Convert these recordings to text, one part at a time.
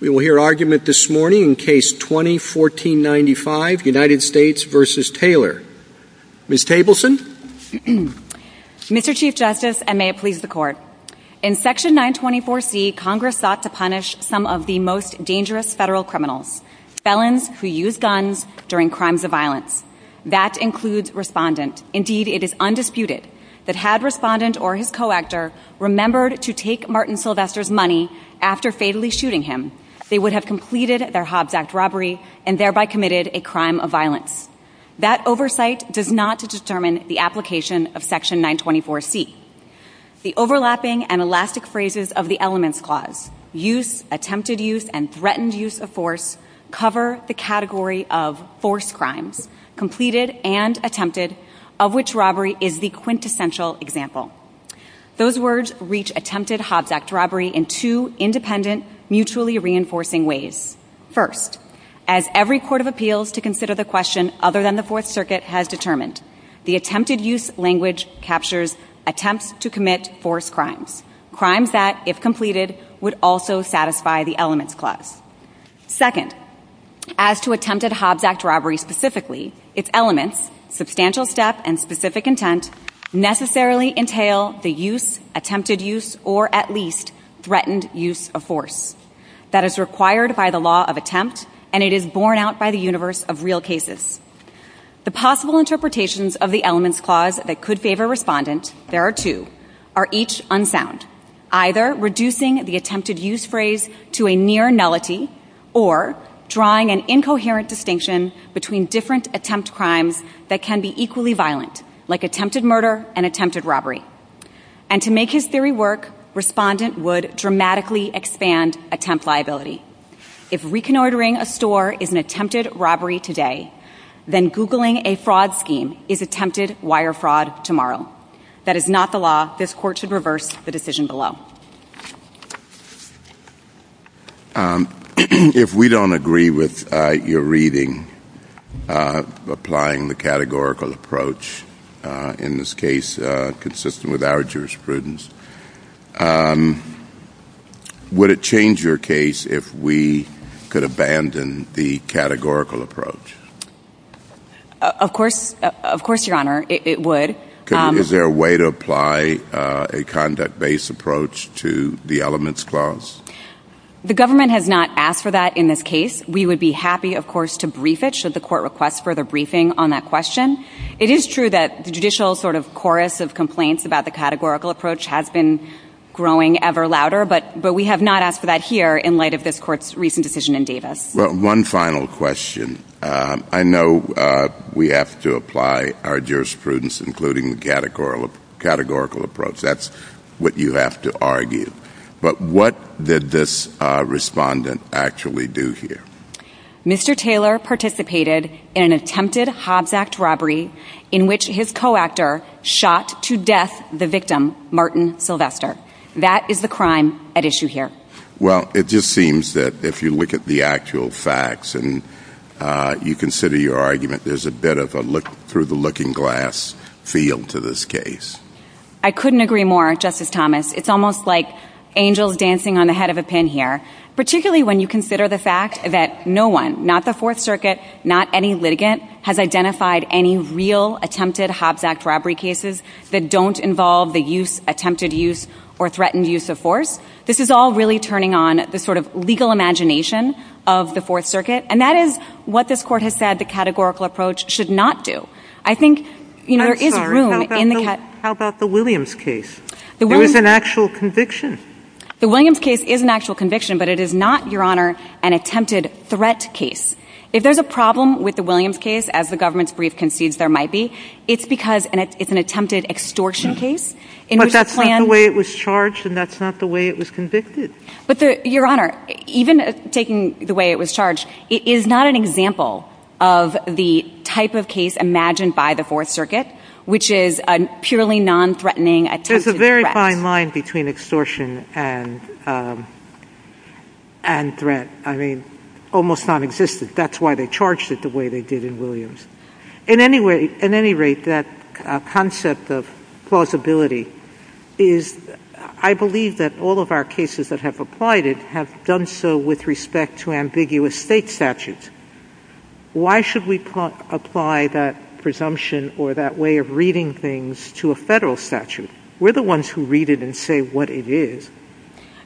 Mr. Chief Justice, and may it please the Court, in Section 924C, Congress sought to punish some of the most dangerous federal criminals, felons who used guns during crimes of violence. That includes respondents. Indeed, it is undisputed that had respondent or his co-actor remembered to take Martin They would have completed their Hobbs Act robbery and thereby committed a crime of violence. That oversight does not determine the application of Section 924C. The overlapping and elastic phrases of the Elements Clause, use, attempted use, and threatened use of force, cover the category of forced crime, completed and attempted, of which robbery is the quintessential example. Those words reach attempted Hobbs Act robbery in two independent, mutually reinforcing ways. First, as every Court of Appeals to consider the question other than the Fourth Circuit has determined, the attempted use language captures attempts to commit forced crimes, crimes that, if completed, would also satisfy the Elements Clause. Second, as to attempted Hobbs Act robbery specifically, its elements, substantial step and specific intent, necessarily entail the use, attempted use, or at least threatened use of force that is required by the law of attempt and it is borne out by the universe of real cases. The possible interpretations of the Elements Clause that could favor respondents, there are two, are each unsound, either reducing the attempted use phrase to a near nullity or drawing an incoherent distinction between different attempt crimes that can be equally violent, like attempted murder and attempted robbery. And to make his theory work, respondent would dramatically expand attempt liability. If reconnoitering a store is an attempted robbery today, then Googling a fraud scheme is attempted wire fraud tomorrow. That is not the law. This Court should reverse the decision below. If we don't agree with your reading, applying the categorical approach, in this case consistent with our jurisprudence, would it change your case if we could abandon the categorical approach? Of course, Your Honor, it would. Is there a way to apply a conduct-based approach to the Elements Clause? The government has not asked for that in this case. We would be happy, of course, to brief it should the Court request further briefing on that question. It is true that the judicial sort of chorus of complaints about the categorical approach has been growing ever louder, but we have not asked for that here in light of this Court's recent decision in Davis. One final question. I know we have to apply our jurisprudence, including the categorical approach. That's what you have to argue. But what did this respondent actually do here? Mr. Taylor participated in an attempted Hobbs Act robbery in which his co-actor shot to death the victim, Martin Sylvester. That is the crime at issue here. Well, it just seems that if you look at the actual facts and you consider your argument, there's a bit of a through-the-looking-glass feel to this case. I couldn't agree more, Justice Thomas. It's almost like angels dancing on the head of a pin here, particularly when you consider the fact that no one, not the Fourth Circuit, not any litigant, has identified any real attempted Hobbs Act robbery cases that don't involve the attempted use or threatened use of force. This is all really turning on the sort of legal imagination of the Fourth Circuit. And that is what this Court has said the categorical approach should not do. I think, you know, there is room in the case. How about the Williams case? It was an actual conviction. The Williams case is an actual conviction, but it is not, Your Honor, an attempted threat case. If there's a problem with the Williams case, as the government's brief concedes there might be, it's because it's an attempted extortion case. But that's not the way it was charged, and that's not the way it was convicted. But Your Honor, even taking the way it was charged, it is not an example of the type of case imagined by the Fourth Circuit, which is a purely non-threatening attempted threat. There's a very fine line between extortion and threat. I mean, almost nonexistent. That's why they charged it the way they did in Williams. In any rate, that concept of plausibility is, I believe that all of our cases that have applied it have done so with respect to ambiguous state statutes. Why should we apply that presumption or that way of reading things to a federal statute? We're the ones who read it and say what it is.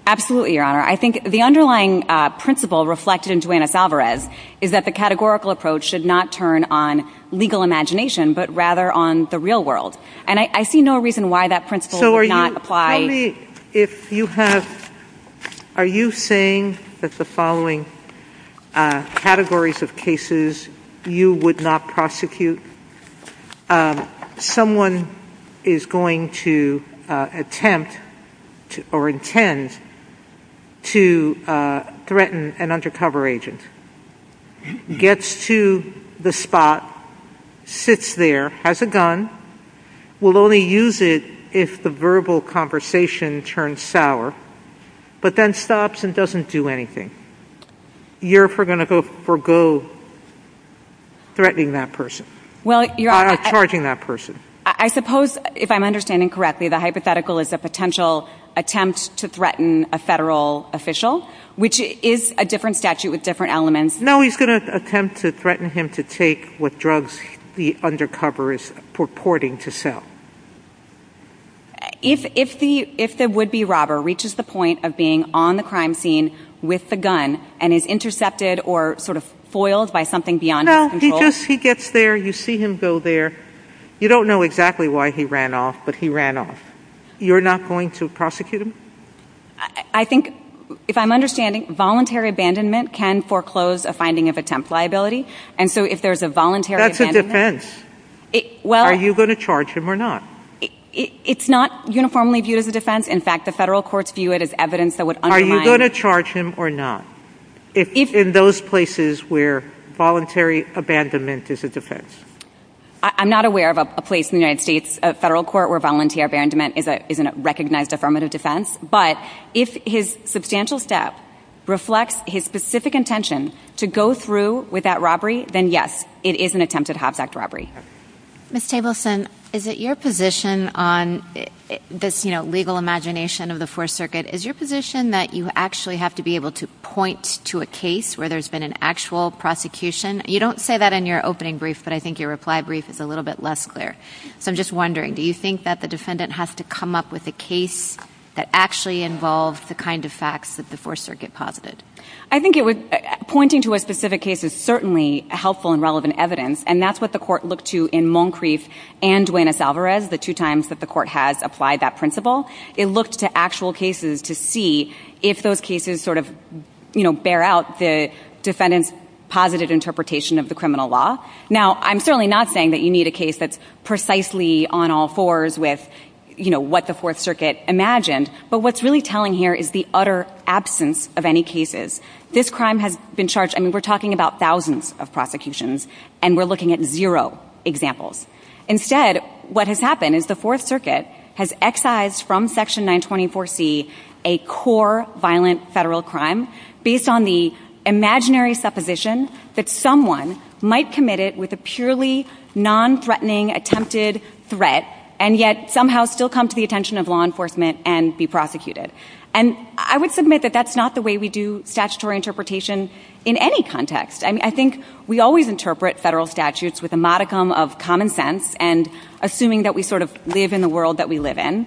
Absolutely, Your Honor. I think the underlying principle reflected in Duane S. Alvarez is that the categorical approach should not turn on legal imagination, but rather on the real world. And I see no reason why that principle does not apply. If you have, are you saying that the following categories of cases you would not prosecute, someone is going to attempt or intend to threaten an undercover agent, gets to the spot, sits there, has a gun, will only use it if the verbal conversation turns sour, but then stops and doesn't do anything. You're going to forego threatening that person, or charging that person. I suppose, if I'm understanding correctly, the hypothetical is a potential attempt to threaten a federal official, which is a different statute with different elements. No, he's going to attempt to threaten him to take what drugs the undercover is purporting to sell. If the would-be robber reaches the point of being on the crime scene with the gun and is intercepted or sort of foiled by something beyond his control... No, because he gets there, you see him go there, you don't know exactly why he ran off, but he ran off. You're not going to prosecute him? I think, if I'm understanding, voluntary abandonment can foreclose a finding of attempt liability, and so if there's a voluntary abandonment... That's a defense. Are you going to charge him or not? It's not uniformly viewed as a defense. In fact, the federal courts view it as evidence that would undermine... Are you going to charge him or not, in those places where voluntary abandonment is a defense? I'm not aware of a place in the United States, a federal court, where voluntary abandonment is a recognized affirmative defense, but if his substantial staff reflects his specific intentions to go through with that robbery, then yes, it is an attempted Hobbs Act robbery. Ms. Tableson, is it your position on this legal imagination of the Fourth Circuit, is your position that you actually have to be able to point to a case where there's been an actual prosecution? You don't say that in your opening brief, but I think your reply brief is a little bit less clear. So I'm just wondering, do you think that the defendant has to come up with a case that actually involves the kind of facts that the Fourth Circuit posited? I think pointing to a specific case is certainly helpful and relevant evidence, and that's what the court looked to in Moncrieff and Duenas-Alvarez, the two times that the court has applied that principle. It looked to actual cases to see if those cases bear out the defendant's positive interpretation of the criminal law. Now, I'm certainly not saying that you need a case that's precisely on all fours with what the Fourth Circuit imagined, but what's really telling here is the utter absence of any cases. This crime has been charged, I mean, we're talking about thousands of prosecutions, and we're looking at zero examples. Instead, what has happened is the Fourth Circuit has excised from Section 924C a core violent federal crime based on the imaginary supposition that someone might commit it with a purely non-threatening attempted threat, and yet somehow still come to the attention of law enforcement and be prosecuted. And I would submit that that's not the way we do statutory interpretation in any context, and I think we always interpret federal statutes with a modicum of common sense and assuming that we sort of live in the world that we live in,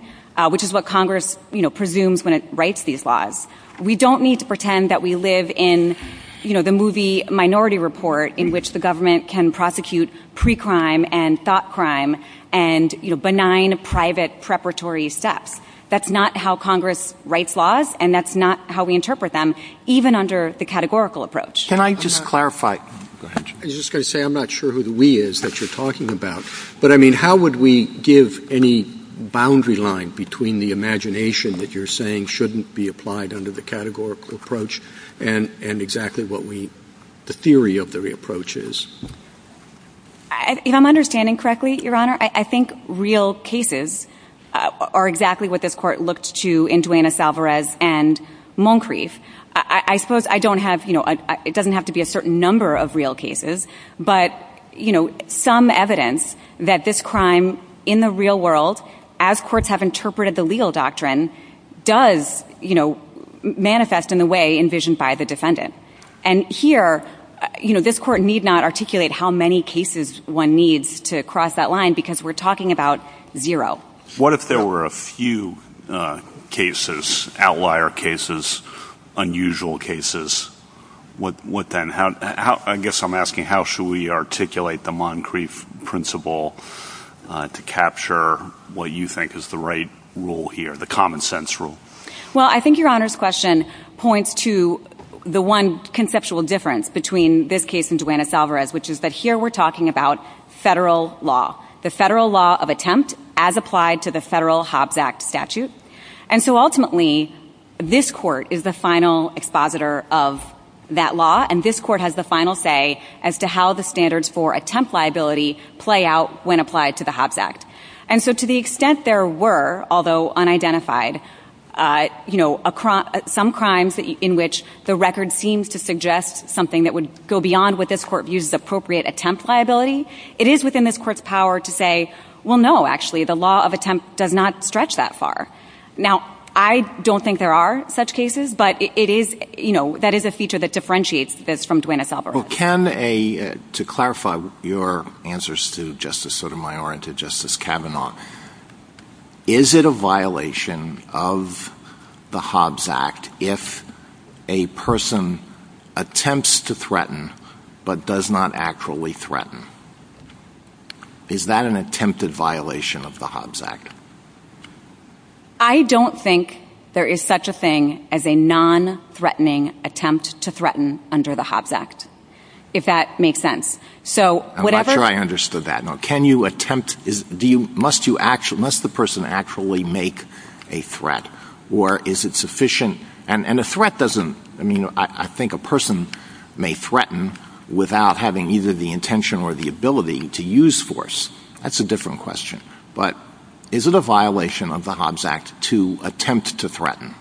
which is what Congress presumes when it writes these laws. We don't need to pretend that we live in the movie Minority Report, in which the government can prosecute pre-crime and thought crime and benign private preparatory steps. That's not how Congress writes laws, and that's not how we interpret them, even under the categorical approach. Can I just clarify? Go ahead. I was just going to say I'm not sure who the we is that you're talking about, but I mean, how would we give any boundary line between the imagination that you're saying shouldn't be applied under the categorical approach and exactly what the theory of the approach is? You know, I'm understanding correctly, Your Honor. Your Honor, I think real cases are exactly what this court looked to in Duenas-Alvarez and Moncrieff. I suppose I don't have, you know, it doesn't have to be a certain number of real cases, but you know, some evidence that this crime in the real world, as courts have interpreted the legal doctrine, does, you know, manifest in the way envisioned by the defendant. And here, you know, this court need not articulate how many cases one needs to cross that line because we're talking about zero. What if there were a few cases, outlier cases, unusual cases, what then, how, I guess I'm asking how should we articulate the Moncrieff principle to capture what you think is the right rule here, the common sense rule? Well, I think Your Honor's question points to the one conceptual difference between this and Duenas-Alvarez, which is that here we're talking about federal law, the federal law of attempt as applied to the federal Hobbs Act statute. And so ultimately, this court is the final expositor of that law, and this court has the final say as to how the standards for attempt liability play out when applied to the Hobbs Act. And so to the extent there were, although unidentified, you know, some crimes in which the record seems to suggest something that would go beyond what this court views as appropriate attempt liability, it is within this court's power to say, well, no, actually, the law of attempt does not stretch that far. Now, I don't think there are such cases, but it is, you know, that is a feature that differentiates this from Duenas-Alvarez. Well, can a, to clarify your answers to Justice Sotomayor and to Justice Kavanaugh, is it a violation of the Hobbs Act if a person attempts to threaten but does not actually threaten? Is that an attempted violation of the Hobbs Act? I don't think there is such a thing as a non-threatening attempt to threaten under the Hobbs Act, if that makes sense. So, whatever— I'm not sure I understood that. You know, can you attempt—do you—must you—must the person actually make a threat or is it sufficient? And a threat doesn't—I mean, I think a person may threaten without having either the intention or the ability to use force. That's a different question. But is it a violation of the Hobbs Act to attempt to threaten?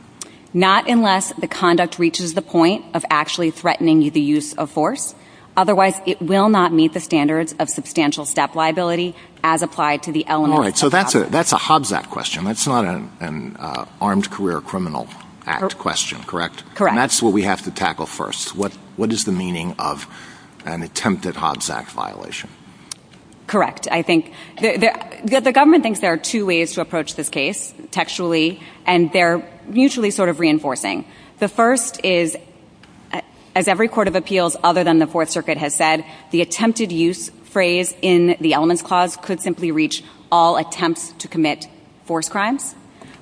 Not unless the conduct reaches the point of actually threatening the use of force, otherwise it will not meet the standards of substantial staff liability as applied to the elements All right. So that's a Hobbs Act question. That's not an Armed Career Criminal Act question, correct? Correct. And that's what we have to tackle first. What is the meaning of an attempted Hobbs Act violation? Correct. I think—the government thinks there are two ways to approach this case, textually, and they're usually sort of reinforcing. The first is, as every court of appeals other than the Fourth Circuit has said, the attempted use phrase in the elements clause could simply reach all attempts to commit forced crime.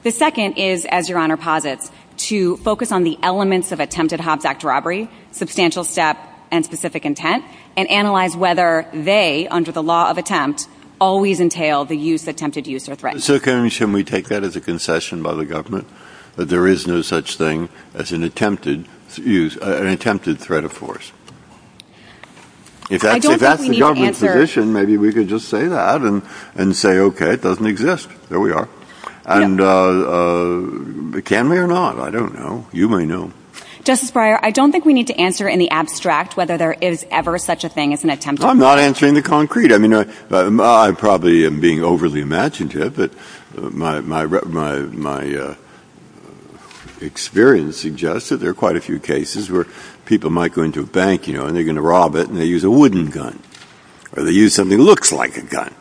The second is, as Your Honor posits, to focus on the elements of attempted Hobbs Act robbery, substantial staff, and specific intent, and analyze whether they, under the law of attempt, always entail the use—attempted use of a threat. So can we take that as a concession by the government, that there is no such thing as an attempted use—an attempted threat of force? I don't think we need to answer— If that's the government's position, maybe we could just say that and say, OK, it doesn't exist. There we are. And can we or not? I don't know. You may know. Justice Breyer, I don't think we need to answer in the abstract whether there is ever such a thing as an attempted— I'm not answering the concrete. I mean, I probably am being overly imaginative, but my experience suggests that there are quite a few cases where people might go into a bank, you know, and they're going to rob it, and they use a wooden gun, or they use something that looks like a gun,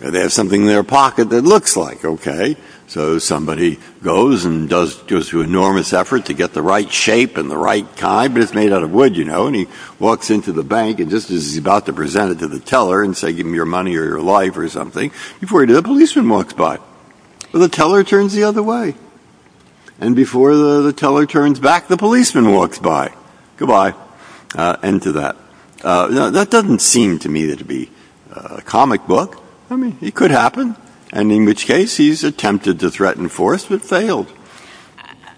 or they have something in their pocket that looks like, OK. So somebody goes and does—gives an enormous effort to get the right shape and the right kind, but it's made out of wood, you know, and he walks into the bank and just as he's about to present it to the teller and say, give me your money or your life or something, before he does, a policeman walks by. The teller turns the other way, and before the teller turns back, the policeman walks by. Goodbye. End to that. You know, that doesn't seem to me to be a comic book. I mean, it could happen, and in which case, he's attempted to threaten force but failed.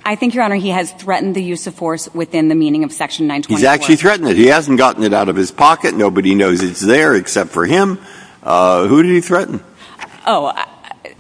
I think, Your Honor, he has threatened the use of force within the meaning of Section 921. He's actually threatened it. He hasn't gotten it out of his pocket. Nobody knows it's there except for him. Who did he threaten? Oh,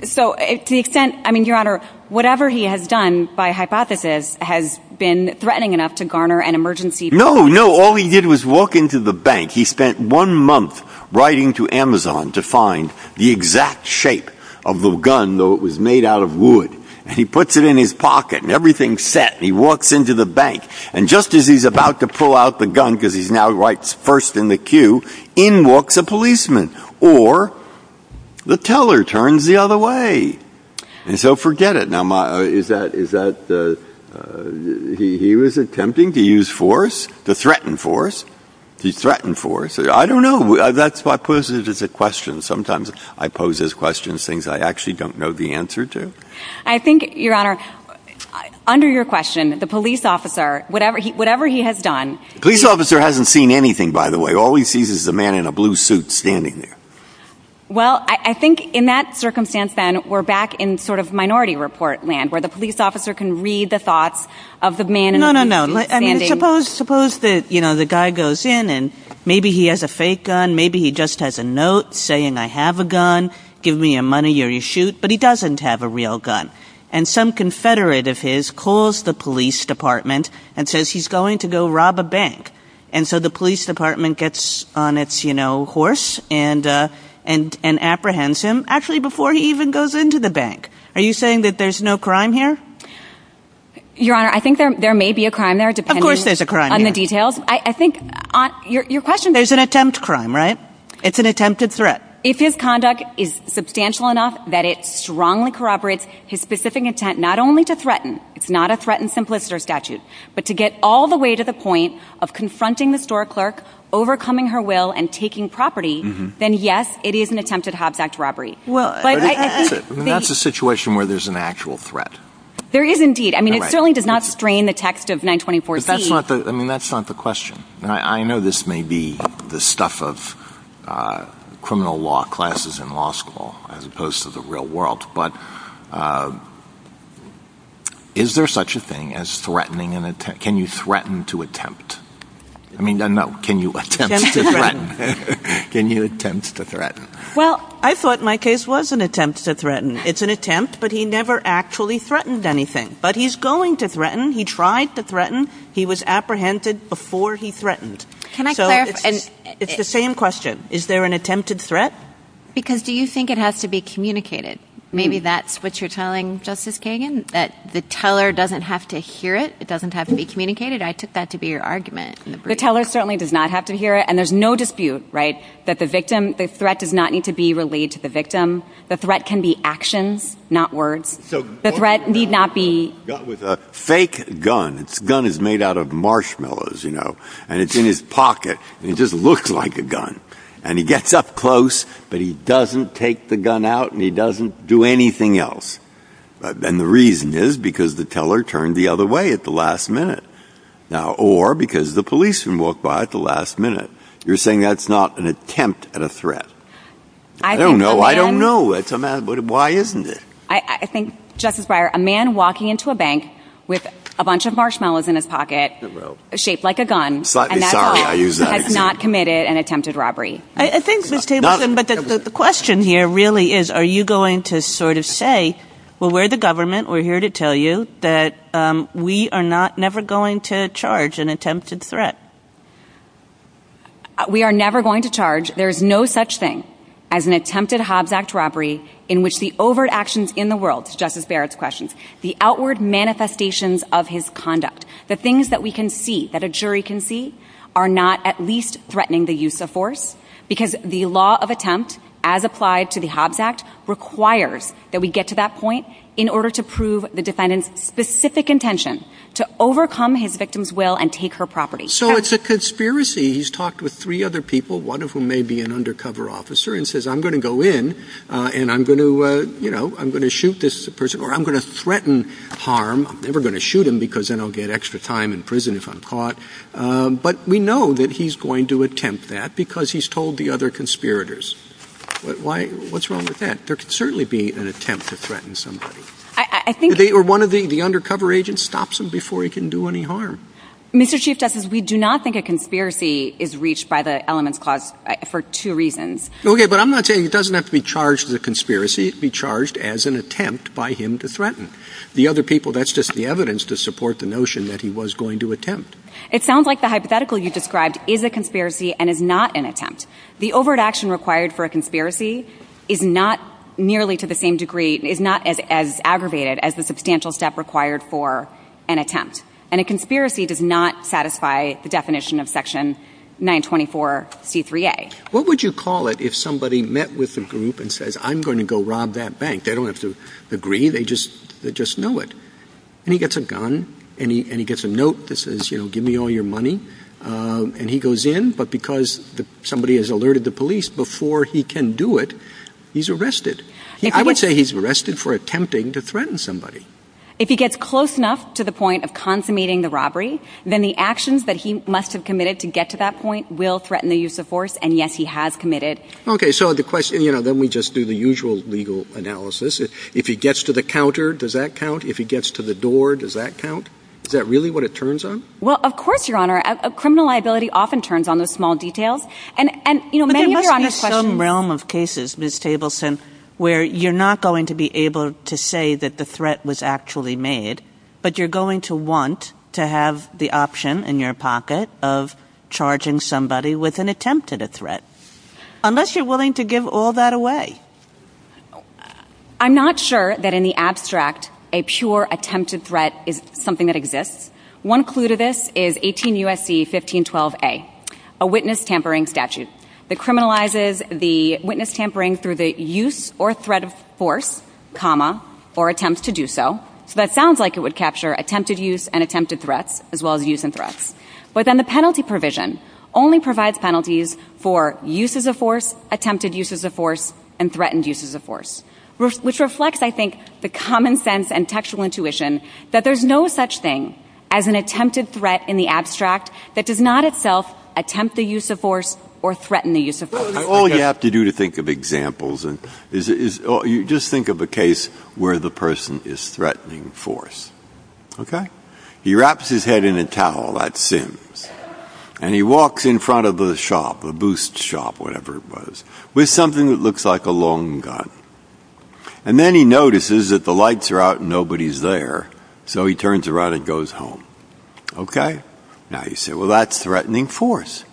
so, to the extent—I mean, Your Honor, whatever he has done, by hypothesis, has been threatening enough to garner an emergency— No, no. All he did was walk into the bank. He spent one month writing to Amazon to find the exact shape of the gun, though it was made out of wood, and he puts it in his pocket, and everything's set. He walks into the bank, and just as he's about to pull out the gun, because he's now right first in the queue, in walks a policeman, or the teller turns the other way. And so, forget it. Now, is that—he was attempting to use force, to threaten force. He threatened force. I don't know. That's what poses as a question. Sometimes I pose as questions things I actually don't know the answer to. I think, Your Honor, under your question, the police officer, whatever he has done— The police officer hasn't seen anything, by the way. All he sees is a man in a blue suit standing there. Well, I think in that circumstance, Ben, we're back in sort of minority report land, where the police officer can read the thoughts of the man in the blue suit standing— No, no, no. I mean, suppose that, you know, the guy goes in, and maybe he has a fake gun, maybe he just has a note saying, I have a gun, give me your money or you shoot, but he doesn't have a real gun. And some confederate of his calls the police department and says he's going to go rob a bank. And so the police department gets on its, you know, horse and apprehends him, actually before he even goes into the bank. Are you saying that there's no crime here? Your Honor, I think there may be a crime there, depending on the details. Of course there's a crime here. I think—your question— There's an attempt crime, right? It's an attempted threat. If his conduct is substantial enough that it strongly corroborates his specific intent not only to threaten—it's not a threatened simpliciter statute—but to get all the way to the point of confronting the store clerk, overcoming her will, and taking property, then yes, it is an attempted hobnax robbery. Well, that's a situation where there's an actual threat. There is indeed. I mean, it certainly does not strain the text of 924c. I mean, that's not the question. I know this may be the stuff of criminal law classes in law school, as opposed to the real world, but is there such a thing as threatening an attempt? Can you threaten to attempt? I mean, no, can you attempt to threaten? Can you attempt to threaten? Well, I thought my case was an attempt to threaten. It's an attempt, but he never actually threatened anything. But he's going to threaten. He tried to threaten. He was apprehended before he threatened. Can I clarify— So it's the same question. Is there an attempted threat? Because do you think it has to be communicated? Maybe that's what you're telling, Justice Kagan, that the teller doesn't have to hear it. It doesn't have to be communicated. I took that to be your argument. The teller certainly does not have to hear it, and there's no dispute, right, that the victim—the threat does not need to be relayed to the victim. The threat can be action, not words. The threat need not be— A man with a fake gun—the gun is made out of marshmallows, you know, and it's in his pocket, and it just looks like a gun. And he gets up close, but he doesn't take the gun out, and he doesn't do anything else. And the reason is because the teller turned the other way at the last minute, or because the policeman walked by at the last minute. You're saying that's not an attempt at a threat. I don't know. I don't know. Why isn't it? I think, Justice Breyer, a man walking into a bank with a bunch of marshmallows in his pocket, shaped like a gun, has not committed an attempted robbery. I think, Ms. Tabor, but the question here really is, are you going to sort of say, well, we're the government, we're here to tell you that we are not—never going to charge an attempted threat? We are never going to charge—there is no such thing as an attempted Hobbs Act robbery in which the overt actions in the world, Justice Barrett's question, the outward manifestations of his conduct, the things that we can see, that a jury can see, are not at least threatening the use of force, because the law of attempt, as applied to the Hobbs Act, requires that we get to that point in order to prove the defendant's specific intention to overcome his victim's will and take her property. So it's a conspiracy. He's talked with three other people, one of whom may be an undercover officer, and says, I'm going to go in, and I'm going to, you know, I'm going to shoot this person, or I'm going to threaten harm, I'm never going to shoot him because then I'll get extra time in prison if I'm caught, but we know that he's going to attempt that because he's told the other conspirators. Why—what's wrong with that? There could certainly be an attempt to threaten somebody. I think— Or one of the undercover agents stops him before he can do any harm. Mr. Chief Justice, we do not think a conspiracy is reached by the elements caused for two reasons. Okay, but I'm not saying it doesn't have to be charged as a conspiracy, it can be charged as an attempt by him to threaten the other people. That's just the evidence to support the notion that he was going to attempt. It sounds like the hypothetical you described is a conspiracy and is not an attempt. The overt action required for a conspiracy is not nearly to the same degree—is not as aggravated as the substantial step required for an attempt, and a conspiracy does not satisfy the definition of Section 924c3a. What would you call it if somebody met with the group and says, I'm going to go rob that bank? They don't have to agree, they just know it. And he gets a gun, and he gets a note that says, you know, give me all your money, and he goes in, but because somebody has alerted the police before he can do it, he's arrested. I would say he's arrested for attempting to threaten somebody. If he gets close enough to the point of consummating the robbery, then the actions that he must have committed to get to that point will threaten the use of force, and yes, he has committed. Okay, so the question—you know, then we just do the usual legal analysis. If he gets to the counter, does that count? If he gets to the door, does that count? Is that really what it turns on? Well, of course, Your Honor. Criminal liability often turns on the small details. But there must be some realm of cases, Ms. Tableson, where you're not going to be able to say that the threat was actually made, but you're going to want to have the option in your pocket of charging somebody with an attempted threat, unless you're willing to give all that away. I'm not sure that in the abstract, a pure attempted threat is something that exists. One clue to this is 18 U.S.C. 1512a, a witness tampering statute that criminalizes the witness tampering through the use or threat of force, comma, or attempts to do so, so that sounds like it would capture attempted use and attempted threats, as well as use and threats. But then the penalty provision only provides penalties for uses of force, attempted uses of force, and threatened uses of force, which reflects, I think, the common sense and textual intuition that there's no such thing as an attempted threat in the abstract that does not itself attempt the use of force or threaten the use of force. All you have to do to think of examples is just think of a case where the person is threatening force, okay? He wraps his head in a towel, that's him, and he walks in front of a shop, a boost shop, whatever it was, with something that looks like a long gun. And then he notices that the lights are out and nobody's there, so he turns around and goes home. Okay? Now you say, well, that's threatening force.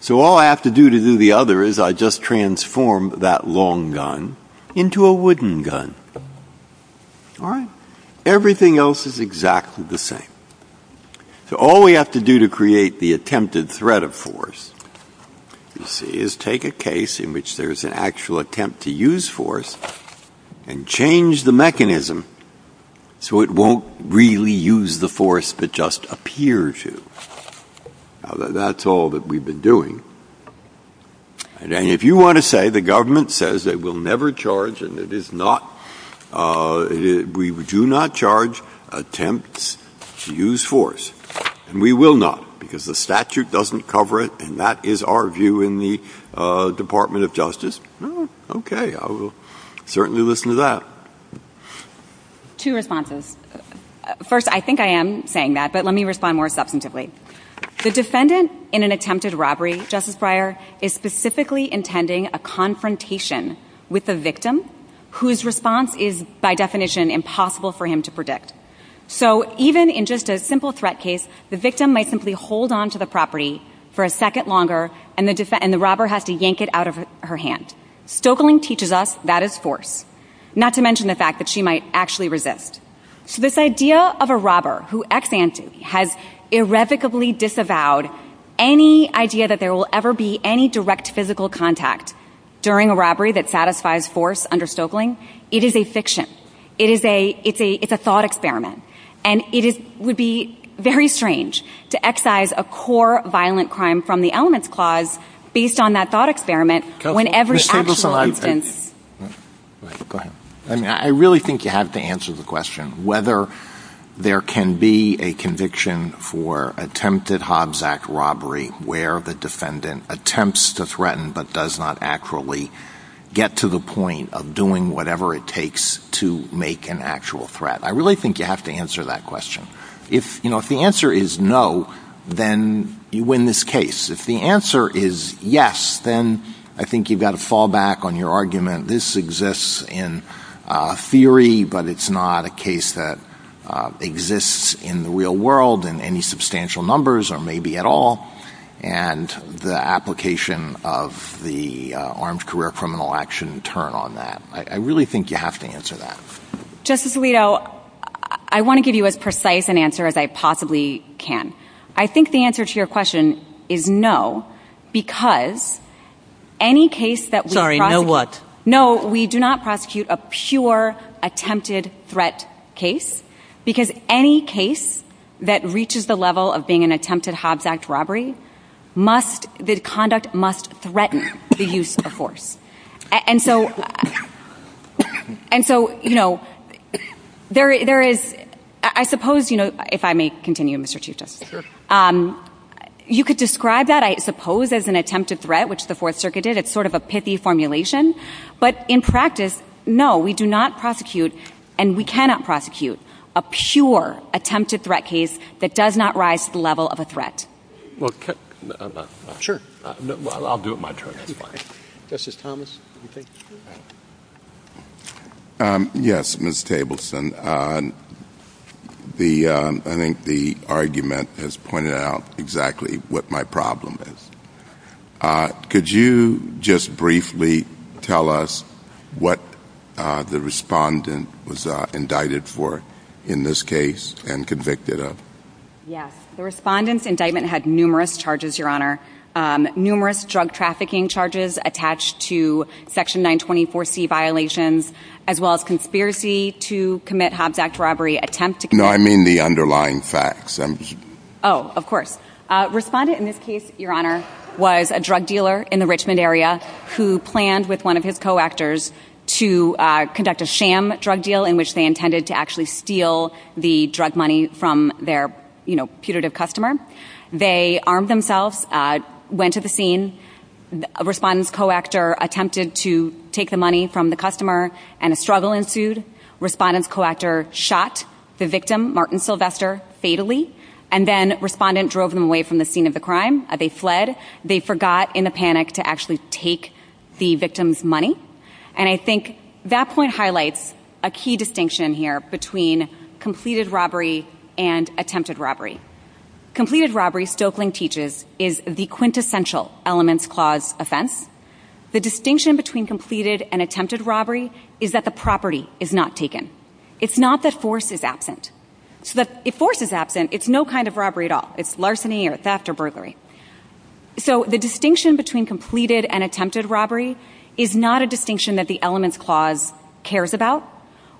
So all I have to do to do the other is I just transform that long gun into a wooden gun. All right? Everything else is exactly the same. So all we have to do to create the attempted threat of force, you see, is take a case in which there's an actual attempt to use force and change the mechanism so it won't really use the force but just appear to. That's all that we've been doing. And if you want to say the government says it will never charge and it is not, we do not charge attempts to use force, and we will not because the statute doesn't cover it, and that is our view in the Department of Justice, okay, I will certainly listen to that. Two responses. First, I think I am saying that, but let me respond more substantively. The defendant in an attempted robbery, Justice Breyer, is specifically intending a confrontation with the victim whose response is by definition impossible for him to predict. So even in just a simple threat case, the victim might simply hold on to the property for a second longer and the robber has to yank it out of her hand. Stoeckling teaches us that is force, not to mention the fact that she might actually resist. So this idea of a robber who ex-ante has irrevocably disavowed any idea that there will ever be any direct physical contact during a robbery that satisfies force under Stoeckling, it is a fiction. It is a thought experiment. And it would be very strange to excise a core violent crime from the elements clause based on that thought experiment when every actual instance— I really think you have to answer the question whether there can be a conviction for attempted Hobbs Act robbery where the defendant attempts to threaten but does not actually get to the point of doing whatever it takes to make an actual threat. I really think you have to answer that question. If the answer is no, then you win this case. If the answer is yes, then I think you've got to fall back on your argument. This exists in theory, but it's not a case that exists in the real world in any substantial numbers, or maybe at all, and the application of the armed career criminal action turn on that. I really think you have to answer that. Justice Alito, I want to give you as precise an answer as I possibly can. I think the answer to your question is no, because any case that— Sorry, no what? No, we do not prosecute a pure attempted threat case, because any case that reaches the level of being an attempted Hobbs Act robbery, the conduct must threaten the use of force. And so, you know, there is—I suppose, you know, if I may continue, Mr. Chief Justice. Sure. You could describe that, I suppose, as an attempted threat, which the Fourth Circuit did. It's sort of a pithy formulation, but in practice, no, we do not prosecute, and we cannot prosecute, a pure attempted threat case that does not rise to the level of a threat. Sure. Well, I'll do it my turn. Justice Thomas. Yes, Ms. Tableson. I think the argument has pointed out exactly what my problem is. Could you just briefly tell us what the respondent was indicted for in this case and convicted of? Yes. The respondent's indictment had numerous charges, Your Honor, numerous drug trafficking charges attached to Section 924C violations, as well as conspiracy to commit Hobbs Act robbery attempts to— No, I mean the underlying facts. Oh, of course. Respondent in this case, Your Honor, was a drug dealer in the Richmond area who planned with one of his co-actors to conduct a sham drug deal in which they intended to actually steal the drug money from their, you know, putative customer. They armed themselves, went to the scene. Respondent's co-actor attempted to take the money from the customer, and a struggle ensued. Respondent's co-actor shot the victim, Martin Sylvester, fatally, and then respondent drove them away from the scene of the crime. They fled. They forgot in a panic to actually take the victim's money. And I think that point highlights a key distinction here between completed robbery and attempted robbery. Completed robbery, Stoeckling teaches, is the quintessential elements clause offense. The distinction between completed and attempted robbery is that the property is not taken. It's not that force is absent. If force is absent, it's no kind of robbery at all. It's larceny or theft or burglary. So the distinction between completed and attempted robbery is not a distinction that the elements clause cares about,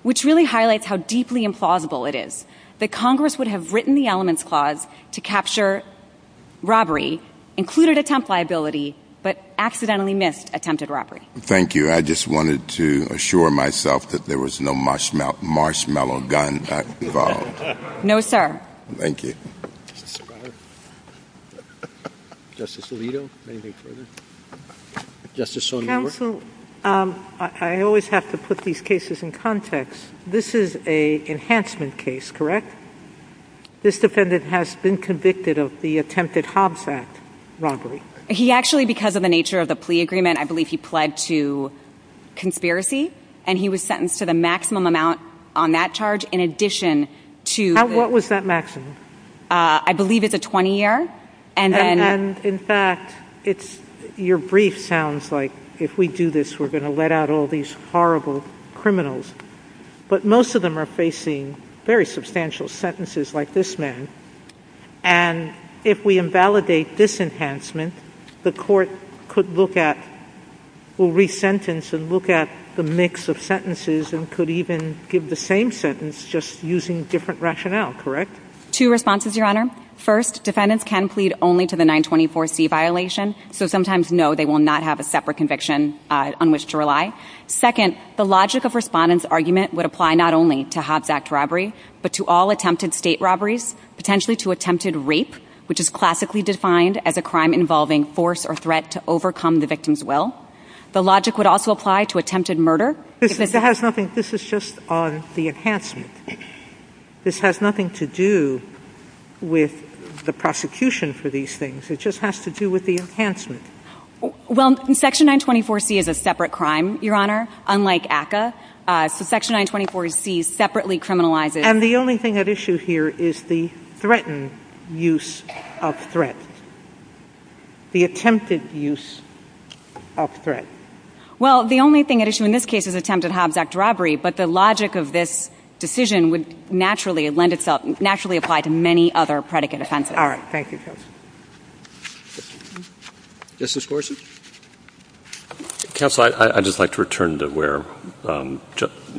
which really highlights how deeply implausible it is that Congress would have written the elements clause to capture robbery, included attempt liability, but accidentally missed attempted robbery. Thank you. I just wanted to assure myself that there was no marshmallow gun involved. No, sir. Thank you. Justice Alito, anything further? Justice Sonia Wood? Counsel, I always have to put these cases in context. This is an enhancement case, correct? This defendant has been convicted of the attempted Hobbs Act robbery. He actually, because of the nature of the plea agreement, I believe he pled to conspiracy. And he was sentenced to the maximum amount on that charge in addition to... What was that maximum? I believe it's a 20-year. And in fact, your brief sounds like if we do this, we're going to let out all these horrible criminals. But most of them are facing very substantial sentences like this man. And if we invalidate this enhancement, the court could look at, will resentence and look at the mix of sentences and could even give the same sentence just using different rationale, correct? Two responses, Your Honor. First, defendants can plead only to the 924C violation. So sometimes, no, they will not have a separate conviction on which to rely. Second, the logic of respondent's argument would apply not only to Hobbs Act robbery, but to all attempted state robberies, potentially to attempted rape, which is classically defined as a crime involving force or threat to overcome the victim's will. The logic would also apply to attempted murder. This has nothing... This is just on the enhancement. This has nothing to do with the prosecution for these things. It just has to do with the enhancement. Well, Section 924C is a separate crime, Your Honor, unlike ACCA. Section 924C separately criminalizes... And the only thing at issue here is the threatened use of threat, the attempted use of threat. Well, the only thing at issue in this case is attempted Hobbs Act robbery, but the logic of this decision would naturally lend itself, naturally apply to many other predicate offenses. All right. Thank you. Okay. Justice Gorsuch? Counsel, I'd just like to return to where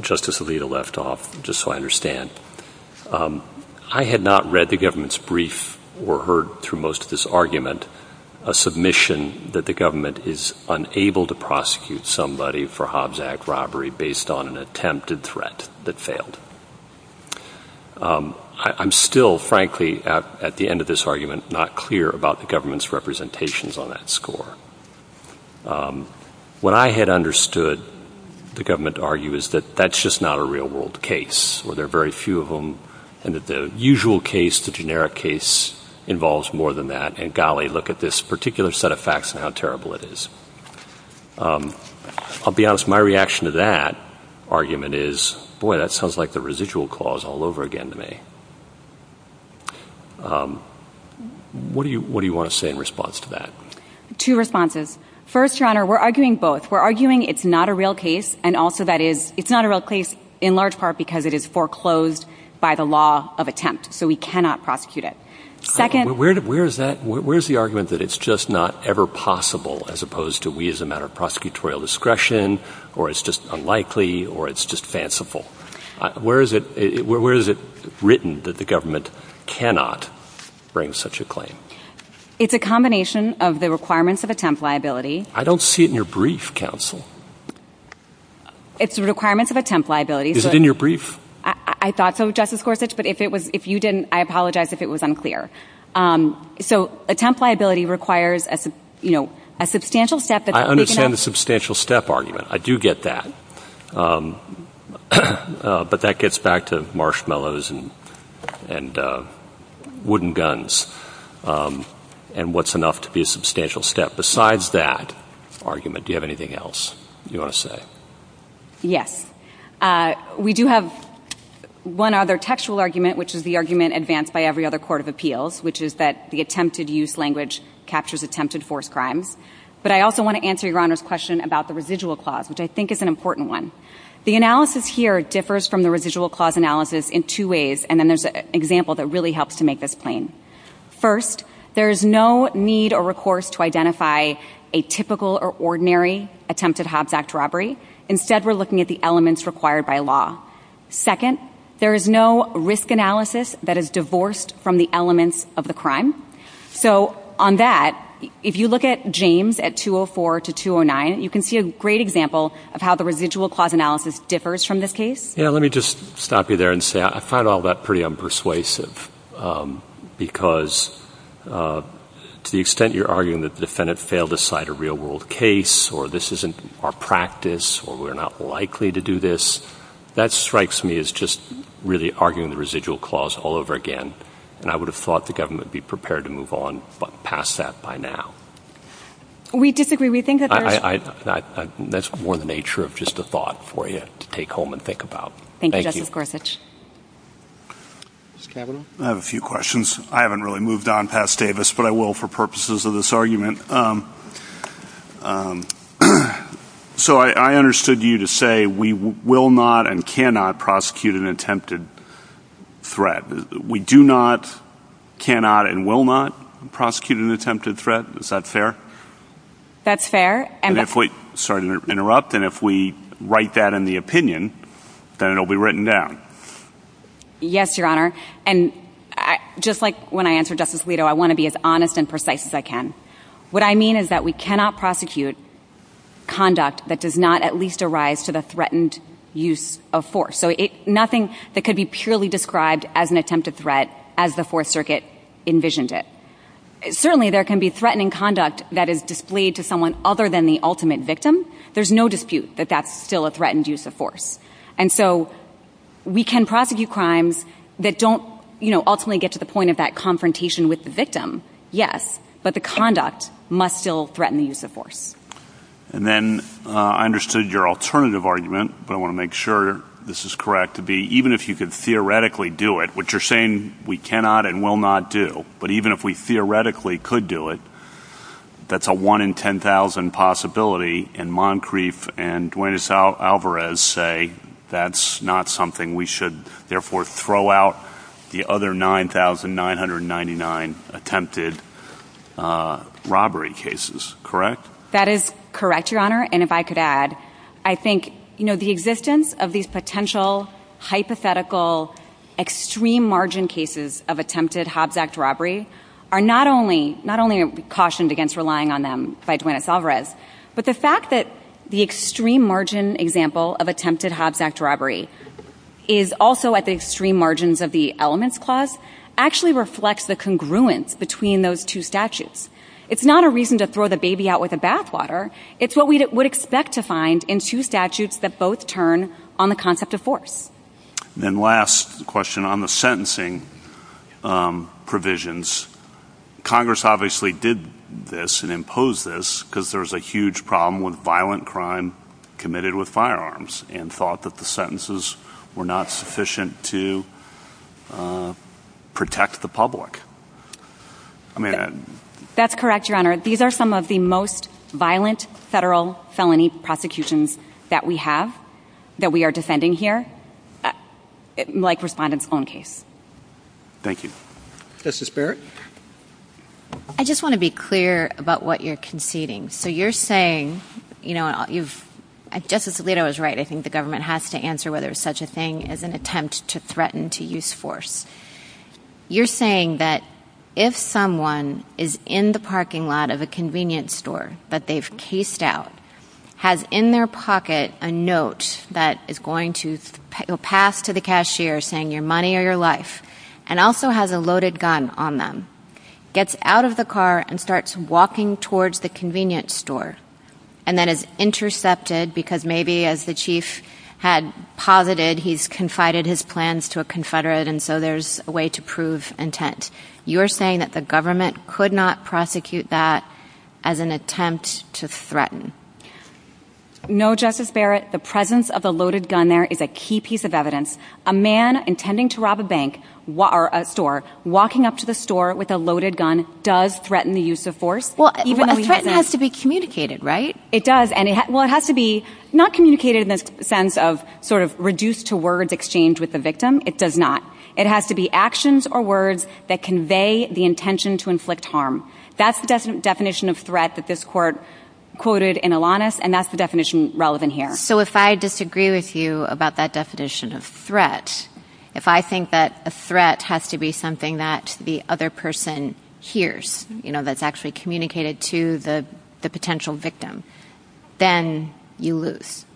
Justice Alito left off, just so I understand. I had not read the government's brief or heard through most of this argument a submission that the government is unable to prosecute somebody for Hobbs Act robbery based on an attempted threat that failed. I'm still, frankly, at the end of this argument, not clear about the government's representations on that score. What I had understood the government to argue is that that's just not a real-world case, or there are very few of them, and that the usual case, the generic case, involves more than that, and golly, look at this particular set of facts and how terrible it is. I'll be honest. My reaction to that argument is, boy, that sounds like the residual clause all over again to me. What do you want to say in response to that? Two responses. First, Your Honor, we're arguing both. We're arguing it's not a real case, and also that it's not a real case in large part because it is foreclosed by the law of attempt, so we cannot prosecute it. Where is the argument that it's just not ever possible as opposed to we as a matter of prosecutorial discretion, or it's just unlikely, or it's just fanciful? Where is it written that the government cannot bring such a claim? It's a combination of the requirements of attempt liability. I don't see it in your brief, counsel. It's the requirements of attempt liability. Is it in your brief? I thought so, Justice Gorsuch, but if you didn't, I apologize if it was unclear. So attempt liability requires a substantial step. I understand the substantial step argument. I do get that. But that gets back to marshmallows and wooden guns and what's enough to be a substantial step. Besides that argument, do you have anything else you want to say? Yes. We do have one other textual argument, which is the argument advanced by every other court of appeals, which is that the attempted use language captures attempted forced crime. But I also want to answer Your Honor's question about the residual clause, which I think is an important one. The analysis here differs from the residual clause analysis in two ways, and then there's an example that really helps to make this plain. First, there is no need or recourse to identify a typical or ordinary attempted Hobbs Act robbery. Instead, we're looking at the elements required by law. Second, there is no risk analysis that is divorced from the elements of the crime. So on that, if you look at James at 204 to 209, you can see a great example of how the residual clause analysis differs from this case. Yeah, let me just stop you there and say I find all that pretty unpersuasive because to the extent you're arguing that the defendant failed to cite a real world case or this isn't our practice or we're not likely to do this, that strikes me as just really arguing the residual clause all over again, and I would have thought the government would be prepared to move on past that by now. We disagree. We think that's right. That's more the nature of just a thought for you to take home and think about. Thank you. Thank you, Justice Gorthich. Mr. Kagan? I have a few questions. I haven't really moved on past Davis, but I will for purposes of this argument. So I understood you to say we will not and cannot prosecute an attempted threat. We do not, cannot, and will not prosecute an attempted threat. Is that fair? That's fair. Sorry to interrupt, and if we write that in the opinion, then it will be written down. Yes, Your Honor. And just like when I answered Justice Alito, I want to be as honest and precise as I can. What I mean is that we cannot prosecute conduct that does not at least arise to the threatened use of force. So nothing that could be purely described as an attempted threat as the Fourth Circuit envisioned it. Certainly, there can be threatening conduct that is displayed to someone other than the ultimate victim. There's no dispute that that's still a threatened use of force. And so we can prosecute crimes that don't ultimately get to the point of that confrontation with the victim, yes, but the conduct must still threaten the use of force. And then I understood your alternative argument, but I want to make sure this is correct, to be even if you could theoretically do it, which you're saying we cannot and will not do, but even if we theoretically could do it, that's a 1 in 10,000 possibility, and that's not something we should, therefore, throw out the other 9,999 attempted robbery cases, correct? That is correct, Your Honor. And if I could add, I think the existence of these potential hypothetical extreme margin cases of attempted Hobbs Act robbery are not only cautioned against relying on them by is also at the extreme margins of the elements clause actually reflects the congruence between those two statutes. It's not a reason to throw the baby out with the bathwater. It's what we would expect to find in two statutes that both turn on the concept of force. And then last question, on the sentencing provisions, Congress obviously did this and imposed this because there's a huge problem with violent crime committed with firearms and thought that the sentences were not sufficient to protect the public. That's correct, Your Honor. These are some of the most violent federal felony prosecutions that we have, that we are defending here, like Respondent's own case. Thank you. Justice Barrett? I just want to be clear about what you're conceding. So you're saying, Justice Alito is right, I think the government has to answer whether such a thing is an attempt to threaten to use force. You're saying that if someone is in the parking lot of a convenience store that they've cased out, has in their pocket a note that is going to pass to the cashier saying your money or your life, and also has a loaded gun on them, gets out of the car and starts walking towards the convenience store, and then is intercepted because maybe as the chief had posited, he's confided his plans to a confederate and so there's a way to prove intent. You're saying that the government could not prosecute that as an attempt to threaten. No, Justice Barrett. The presence of a loaded gun there is a key piece of evidence. A man intending to rob a bank or a store, walking up to the store with a loaded gun does threaten the use of force. A threat has to be communicated, right? It does. Well, it has to be not communicated in the sense of reduced to words exchange with the victim. It does not. It has to be actions or words that convey the intention to inflict harm. That's the definition of threat that this court quoted in Alanis, and that's the definition relevant here. So if I disagree with you about that definition of threat, if I think that a threat has to be something that the other person hears, you know, that's actually communicated to the potential victim, then you lose.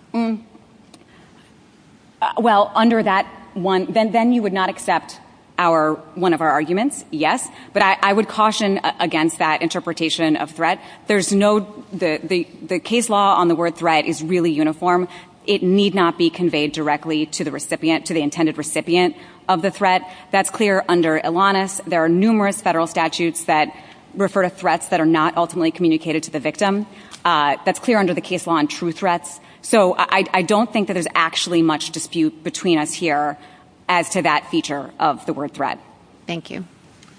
Well, under that one, then you would not accept our, one of our arguments, yes, but I would caution against that interpretation of threat. There's no, the case law on the word threat is really uniform. It need not be conveyed directly to the recipient, to the intended recipient of the threat. That's clear under Alanis. There are numerous federal statutes that refer to threats that are not ultimately communicated to the victim. That's clear under the case law on true threats. So I don't think that there's actually much dispute between us here as to that feature of the word threat. Thank you.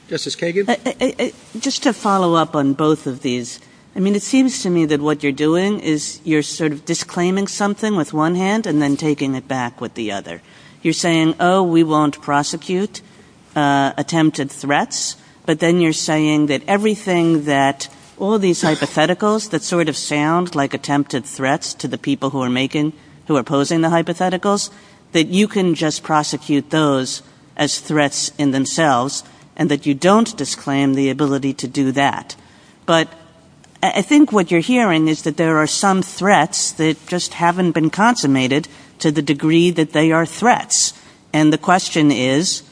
Justice Kagan? Just to follow up on both of these, I mean, it seems to me that what you're doing is you're sort of disclaiming something with one hand and then taking it back with the other. You're saying, oh, we won't prosecute attempted threats, but then you're saying that everything that, all these hypotheticals that sort of sound like attempted threats to the people who are making, who are posing the hypotheticals, that you can just prosecute those as threats in themselves and that you don't disclaim the ability to do that. But I think what you're hearing is that there are some threats that just haven't been consummated to the degree that they are threats. And the question is,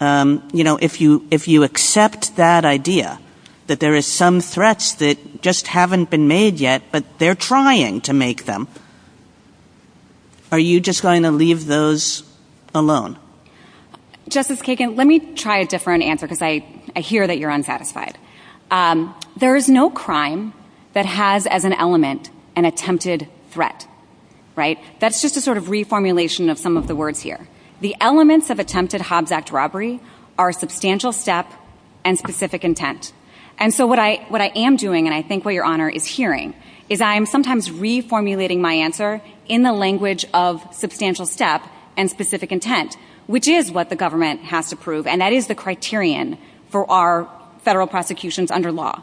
if you accept that idea, that there are some threats that just haven't been made yet, but they're trying to make them, are you just going to leave those alone? Justice Kagan, let me try a different answer because I hear that you're unsatisfied. There is no crime that has as an element an attempted threat, right? That's just a sort of reformulation of some of the words here. The elements of attempted Hobbs Act robbery are substantial step and specific intent. And so what I am doing, and I think what Your Honor is hearing, is I am sometimes reformulating my answer in the language of substantial step and specific intent, which is what the government has to prove, and that is the criterion for our federal prosecutions under law.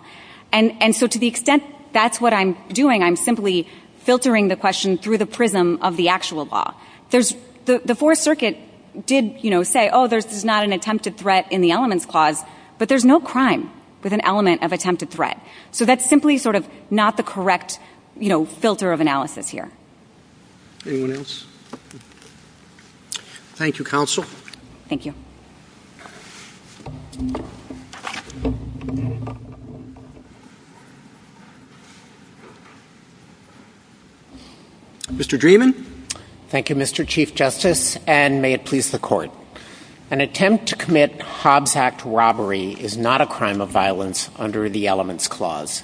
And so to the extent that's what I'm doing, I'm simply filtering the question through the prism of the actual law. The Fourth Circuit did say, oh, there's not an attempted threat in the elements clause, but there's no crime with an element of attempted threat. So that's simply sort of not the correct filter of analysis here. Anyone else? Thank you, counsel. Thank you. Mr. Dreeben. Thank you, Mr. Chief Justice, and may it please the Court. An attempt to commit Hobbs Act robbery is not a crime of violence under the elements clause.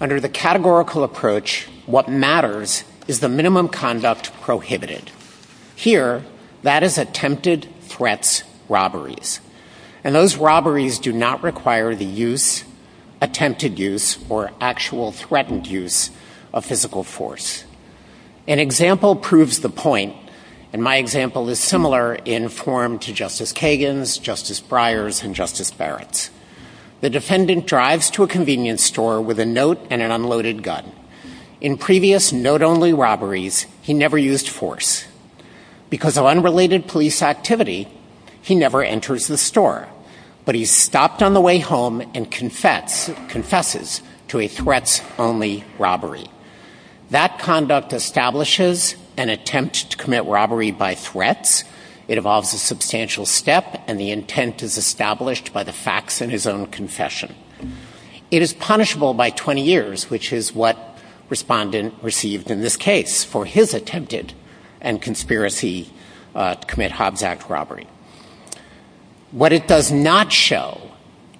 Under the categorical approach, what matters is the minimum conduct prohibited. Here, that is attempted threats robberies. And those robberies do not require the use, attempted use, or actual threatened use of physical force. An example proves the point. And my example is similar in form to Justice Kagan's, Justice Breyer's, and Justice Barrett's. The defendant drives to a convenience store with a note and an unloaded gun. In previous note-only robberies, he never used force. Because of unrelated police activity, he never enters the store. But he stopped on the way home and confesses to a threats-only robbery. That conduct establishes an attempt to commit robbery by threats. It involves a substantial step, and the intent is established by the facts in his own confession. It is punishable by 20 years, which is what respondent received in this case for his attempted and conspiracy to commit Hobbs Act robbery. What it does not show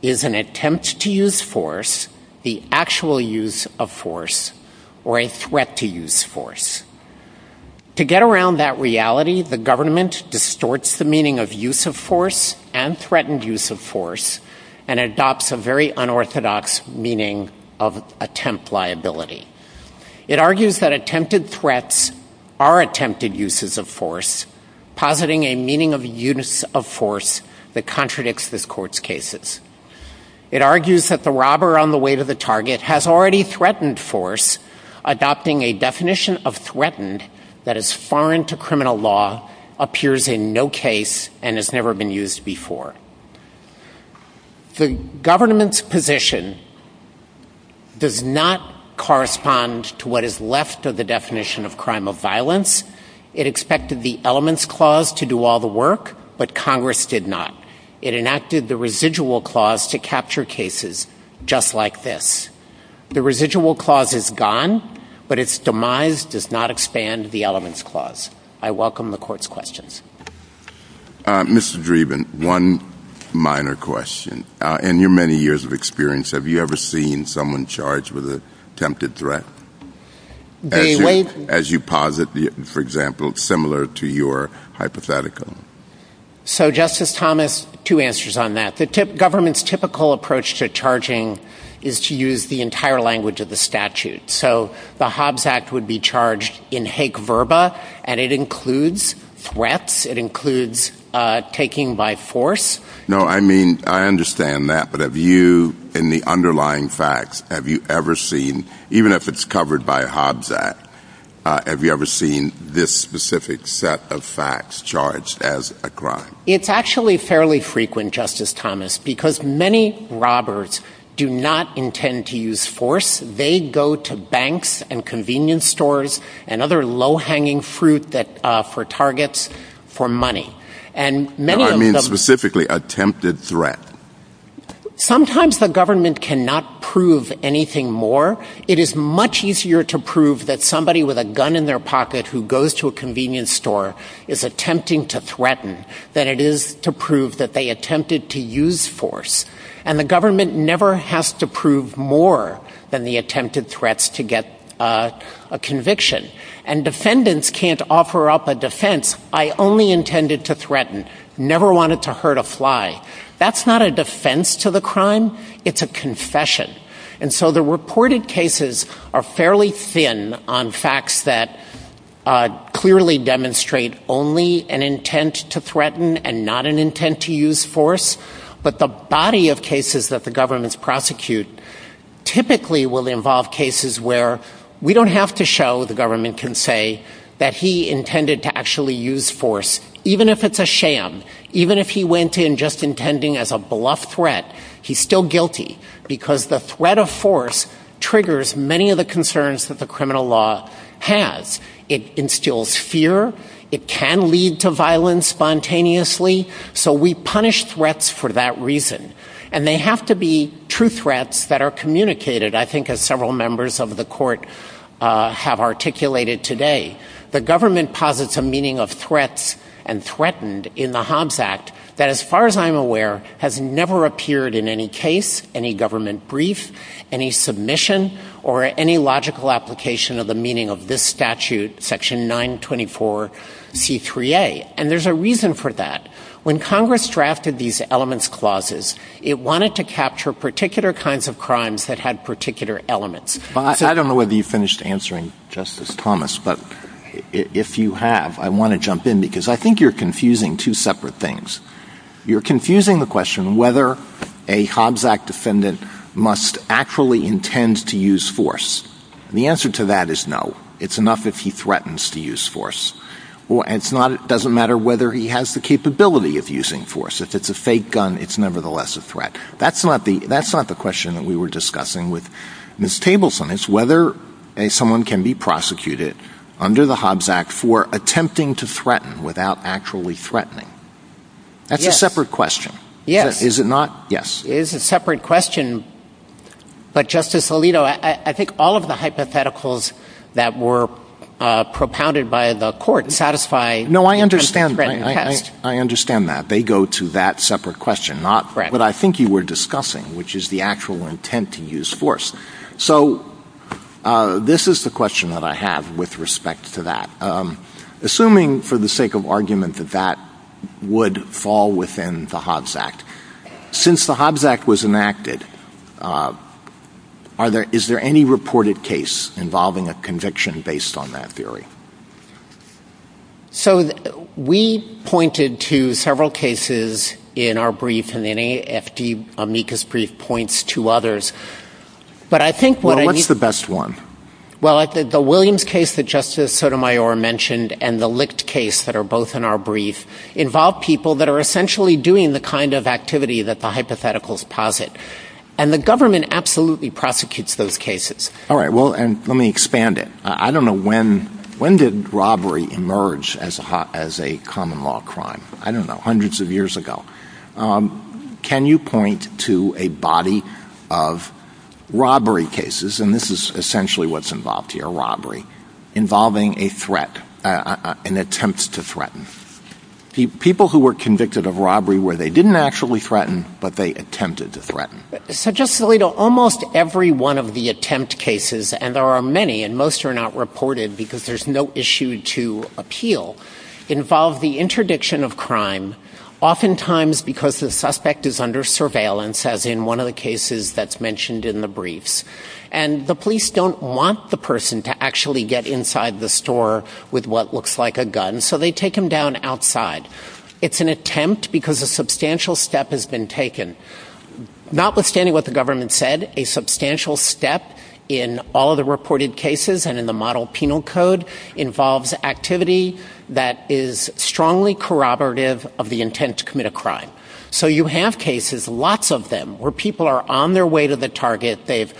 is an attempt to use force, the actual use of force, or a threat to use force. To get around that reality, the government distorts the meaning of use of force and threatened use of force and adopts a very unorthodox meaning of attempt liability. It argues that attempted threats are attempted uses of force, positing a meaning of use of force that contradicts this court's cases. It argues that the robber on the way to the target has already threatened force, adopting a definition of threatened that is foreign to criminal law, appears in no case, and has never been used before. The government's position does not correspond to what is left of the definition of crime of violence. It expected the Elements Clause to do all the work, but Congress did not. It enacted the Residual Clause to capture cases just like this. The Residual Clause is gone, but its demise does not expand the Elements Clause. I welcome the court's questions. Mr. Dreeben, one minor question. In your many years of experience, have you ever seen someone charged with an attempted threat, as you posit, for example, similar to your hypothetical? So, Justice Thomas, two answers on that. The government's typical approach to charging is to use the entire language of the statute. So, the Hobbs Act would be charged in Hague Verba, and it includes threats, it includes taking by force. No, I mean, I understand that, but have you, in the underlying facts, have you ever seen, even if it's covered by a Hobbs Act, have you ever seen this specific set of facts charged as a crime? It's actually fairly frequent, Justice Thomas, because many robbers do not intend to use force. They go to banks and convenience stores and other low-hanging fruit for targets for money. No, I mean specifically attempted threat. Sometimes the government cannot prove anything more. It is much easier to prove that somebody with a gun in their pocket who goes to a convenience store is attempting to threaten than it is to prove that they attempted to use force. And the government never has to prove more than the attempted threats to get a conviction. And defendants can't offer up a defense, I only intended to threaten, never wanted to hurt a fly. That's not a defense to the crime, it's a confession. And so the reported cases are fairly thin on facts that clearly demonstrate only an majority of cases that the government's prosecute typically will involve cases where we don't have to show, the government can say, that he intended to actually use force. Even if it's a sham, even if he went in just intending as a bluff threat, he's still guilty because the threat of force triggers many of the concerns that the criminal law has. It instills fear, it can lead to violence spontaneously, so we punish threats for that reason. And they have to be true threats that are communicated, I think as several members of the court have articulated today. The government posits a meaning of threats and threatened in the Hobbs Act that as far as I'm aware has never appeared in any case, any government brief, any submission, or any logical application of the meaning of this statute, section 924C3A. And there's a reason for that. When Congress drafted these elements clauses, it wanted to capture particular kinds of crimes that had particular elements. I don't know whether you finished answering Justice Thomas, but if you have, I want to jump in because I think you're confusing two separate things. You're confusing the question whether a Hobbs Act defendant must actually intend to use force. The answer to that is no. It's enough if he threatens to use force. It doesn't matter whether he has the capability of using force. If it's a fake gun, it's nevertheless a threat. That's not the question that we were discussing with Ms. Tableson. It's whether someone can be prosecuted under the Hobbs Act for attempting to threaten without actually threatening. That's a separate question. Yes. Is it not? Yes. It is a separate question. But, Justice Alito, I think all of the hypotheticals that were propounded by the court satisfy No, I understand. I understand that. They go to that separate question, not what I think you were discussing, which is the actual intent to use force. So, this is the question that I have with respect to that. Assuming, for the sake of argument, that that would fall within the Hobbs Act, since the Hobbs Act was enacted, is there any reported case involving a conviction based on that theory? So, we pointed to several cases in our brief, and the NAFD amicus brief points to others. What's the best one? Well, the Williams case that Justice Sotomayor mentioned and the Licht case that are both in our brief involve people that are essentially doing the kind of activity that the hypotheticals posit. And the government absolutely prosecutes those cases. All right. Well, let me expand it. I don't know, when did robbery emerge as a common law crime? I don't know. Hundreds of years ago. Can you point to a body of robbery cases, and this is essentially what's involved here, robbery, involving a threat, an attempt to threaten? People who were convicted of robbery where they didn't actually threaten, but they attempted to threaten. So, Justice Alito, almost every one of the attempt cases, and there are many, and most are not reported because there's no issue to appeal, involve the interdiction of crime, oftentimes because the suspect is under surveillance, as in one of the cases that's mentioned in the briefs. And the police don't want the person to actually get inside the store with what looks like a gun, so they take him down outside. It's an attempt because a substantial step has been taken. Notwithstanding what the government said, a substantial step in all the reported cases and in the model penal code involves activity that is strongly corroborative of the intent to commit a crime. So you have cases, lots of them, where people are on their way to the target, they've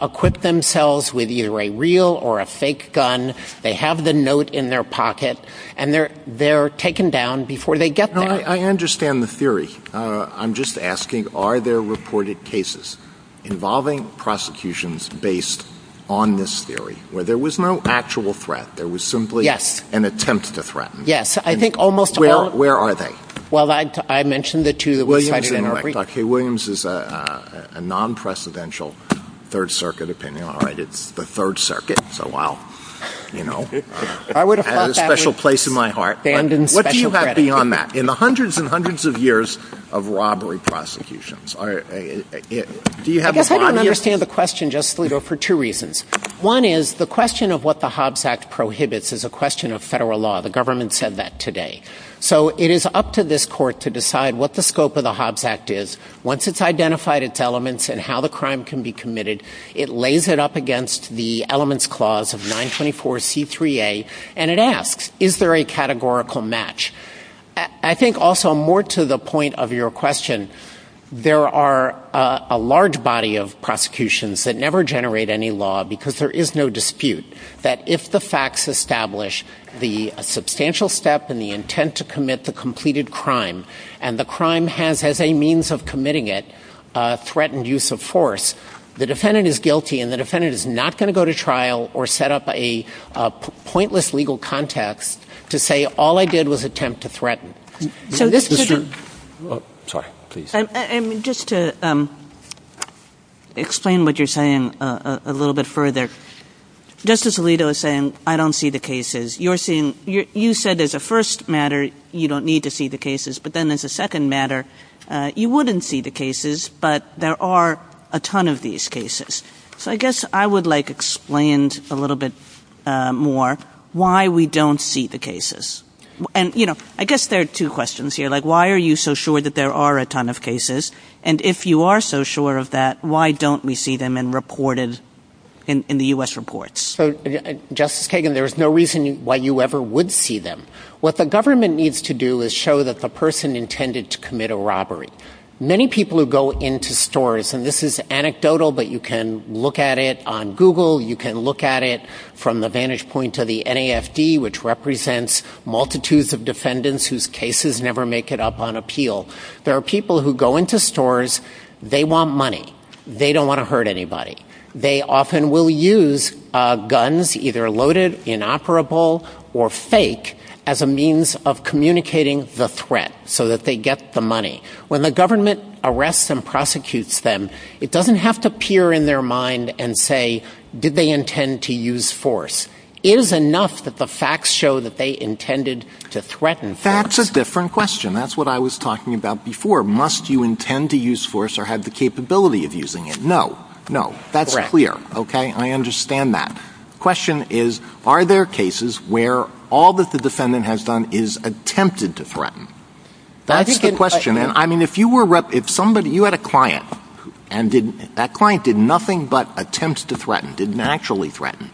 equipped themselves with either a real or a fake gun, they have the note in their pocket, and they're taken down before they get there. I understand the theory. I'm just asking, are there reported cases involving prosecutions based on this theory, where there was no actual threat, there was simply an attempt to threaten? Yes. I think almost all of them. Well, where are they? Well, I mentioned the two that we talked about in our briefs. Okay, Williams is a non-precedential Third Circuit opinion. All right, it's the Third Circuit, so wow. You know, it has a special place in my heart. What do you have beyond that? In the hundreds and hundreds of years of robbery prosecutions. I guess I don't understand the question just for two reasons. One is the question of what the Hobbs Act prohibits is a question of federal law. The government said that today. So it is up to this court to decide what the scope of the Hobbs Act is. Once it's identified its elements and how the crime can be committed, it lays it up against the elements clause of 924C3A, and it asks, is there a categorical match? I think also more to the point of your question, there are a large body of prosecutions that never generate any law because there is no dispute that if the facts establish the substantial step and the intent to commit the completed crime, and the crime has, as a means of committing it, threatened use of force, the defendant is guilty and the defendant is not going to go to trial or set up a pointless legal context to say all I did was attempt to threaten. Just to explain what you're saying a little bit further. Justice Alito is saying I don't see the cases. You said as a first matter you don't need to see the cases, but then as a second matter you wouldn't see the cases, but there are a ton of these cases. I guess I would like explained a little bit more why we don't see the cases. I guess there are two questions here. Why are you so sure that there are a ton of cases, and if you are so sure of that, why don't we see them in the U.S. reports? Justice Kagan, there is no reason why you ever would see them. What the government needs to do is show that the person intended to commit a robbery. Many people who go into stores, and this is anecdotal, but you can look at it on Google, you can look at it from the vantage point of the NAFD, which represents multitudes of defendants whose cases never make it up on appeal. There are people who go into stores, they want money. They don't want to hurt anybody. They often will use guns either loaded, inoperable, or fake When the government arrests and prosecutes them, it doesn't have to appear in their mind and say, did they intend to use force. It is enough that the facts show that they intended to threaten someone. That's a different question. That's what I was talking about before. Must you intend to use force or have the capability of using it? No. No. That's clear. I understand that. The question is, are there cases where all that the defendant has done is attempted to threaten? That's a good question. If you had a client, and that client did nothing but attempt to threaten, didn't actually threaten,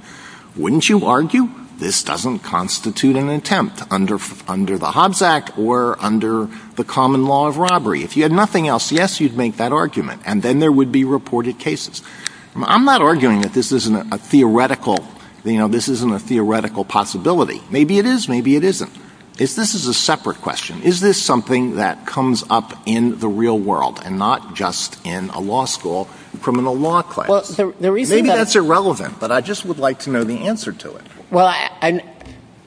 wouldn't you argue this doesn't constitute an attempt under the Hobbes Act or under the common law of robbery? If you had nothing else, yes, you'd make that argument, and then there would be reported cases. I'm not arguing that this isn't a theoretical possibility. Maybe it is, maybe it isn't. If this is a separate question, is this something that comes up in the real world and not just in a law school and criminal law class? Maybe that's irrelevant, but I just would like to know the answer to it.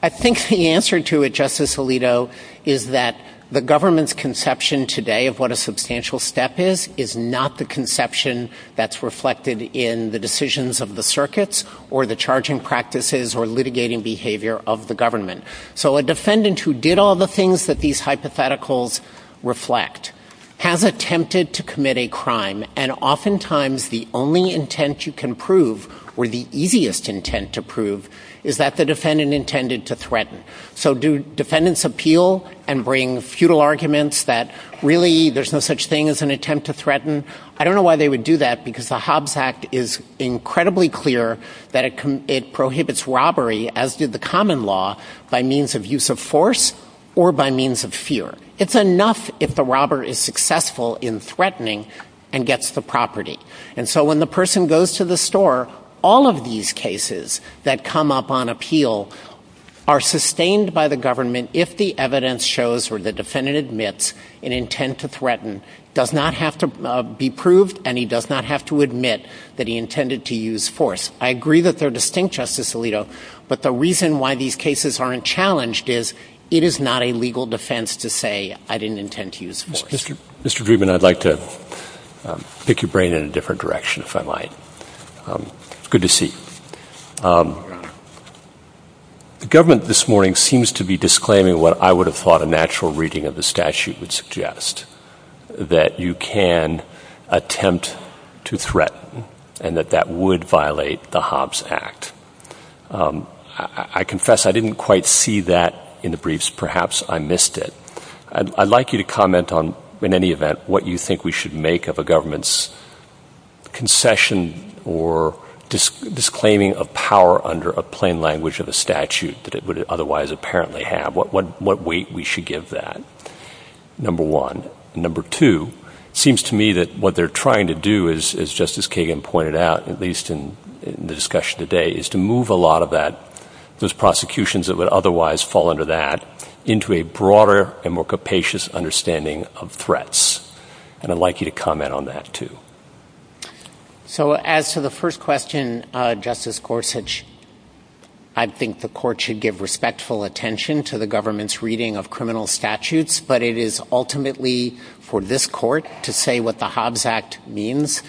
I think the answer to it, Justice Alito, is that the government's conception today of what a substantial step is is not the conception that's reflected in the decisions of the circuits or the charging practices or litigating behavior of the government. So a defendant who did all the things that these hypotheticals reflect has attempted to commit a crime, and oftentimes the only intent you can prove or the easiest intent to prove is that the defendant intended to threaten. So do defendants appeal and bring futile arguments that really there's no such thing as an attempt to threaten? I don't know why they would do that, because the Hobbes Act is incredibly clear that it prohibits robbery, as did the common law, by means of use of force or by means of fear. It's enough if the robber is successful in threatening and gets the property. And so when the person goes to the store, all of these cases that come up on appeal are sustained by the government if the evidence shows where the defendant admits an intent to threaten does not have to be proved and he does not have to admit that he intended to use force. I agree that they're distinct, Justice Alito, but the reason why these cases aren't challenged is it is not a legal defense to say I didn't intend to use force. Mr. Drubin, I'd like to pick your brain in a different direction, if I might. It's good to see you. The government this morning seems to be disclaiming what I would have thought a natural reading of the statute would suggest, that you can attempt to threaten and that that would violate the Hobbes Act. I confess I didn't quite see that in the briefs. Perhaps I missed it. I'd like you to comment on, in any event, what you think we should make of a government's concession or disclaiming of power under a plain language of a statute that it would otherwise apparently have. What weight we should give that. Number one. Number two, it seems to me that what they're trying to do, as Justice Kagan pointed out, at least in the discussion today, is to move a lot of those prosecutions that would otherwise fall under that into a broader and more capacious understanding of threats. I'd like you to comment on that, too. As to the first question, Justice Gorsuch, I think the court should give respectful attention to the government's reading of criminal statutes, but it is ultimately for this court to say what the Hobbes Act means.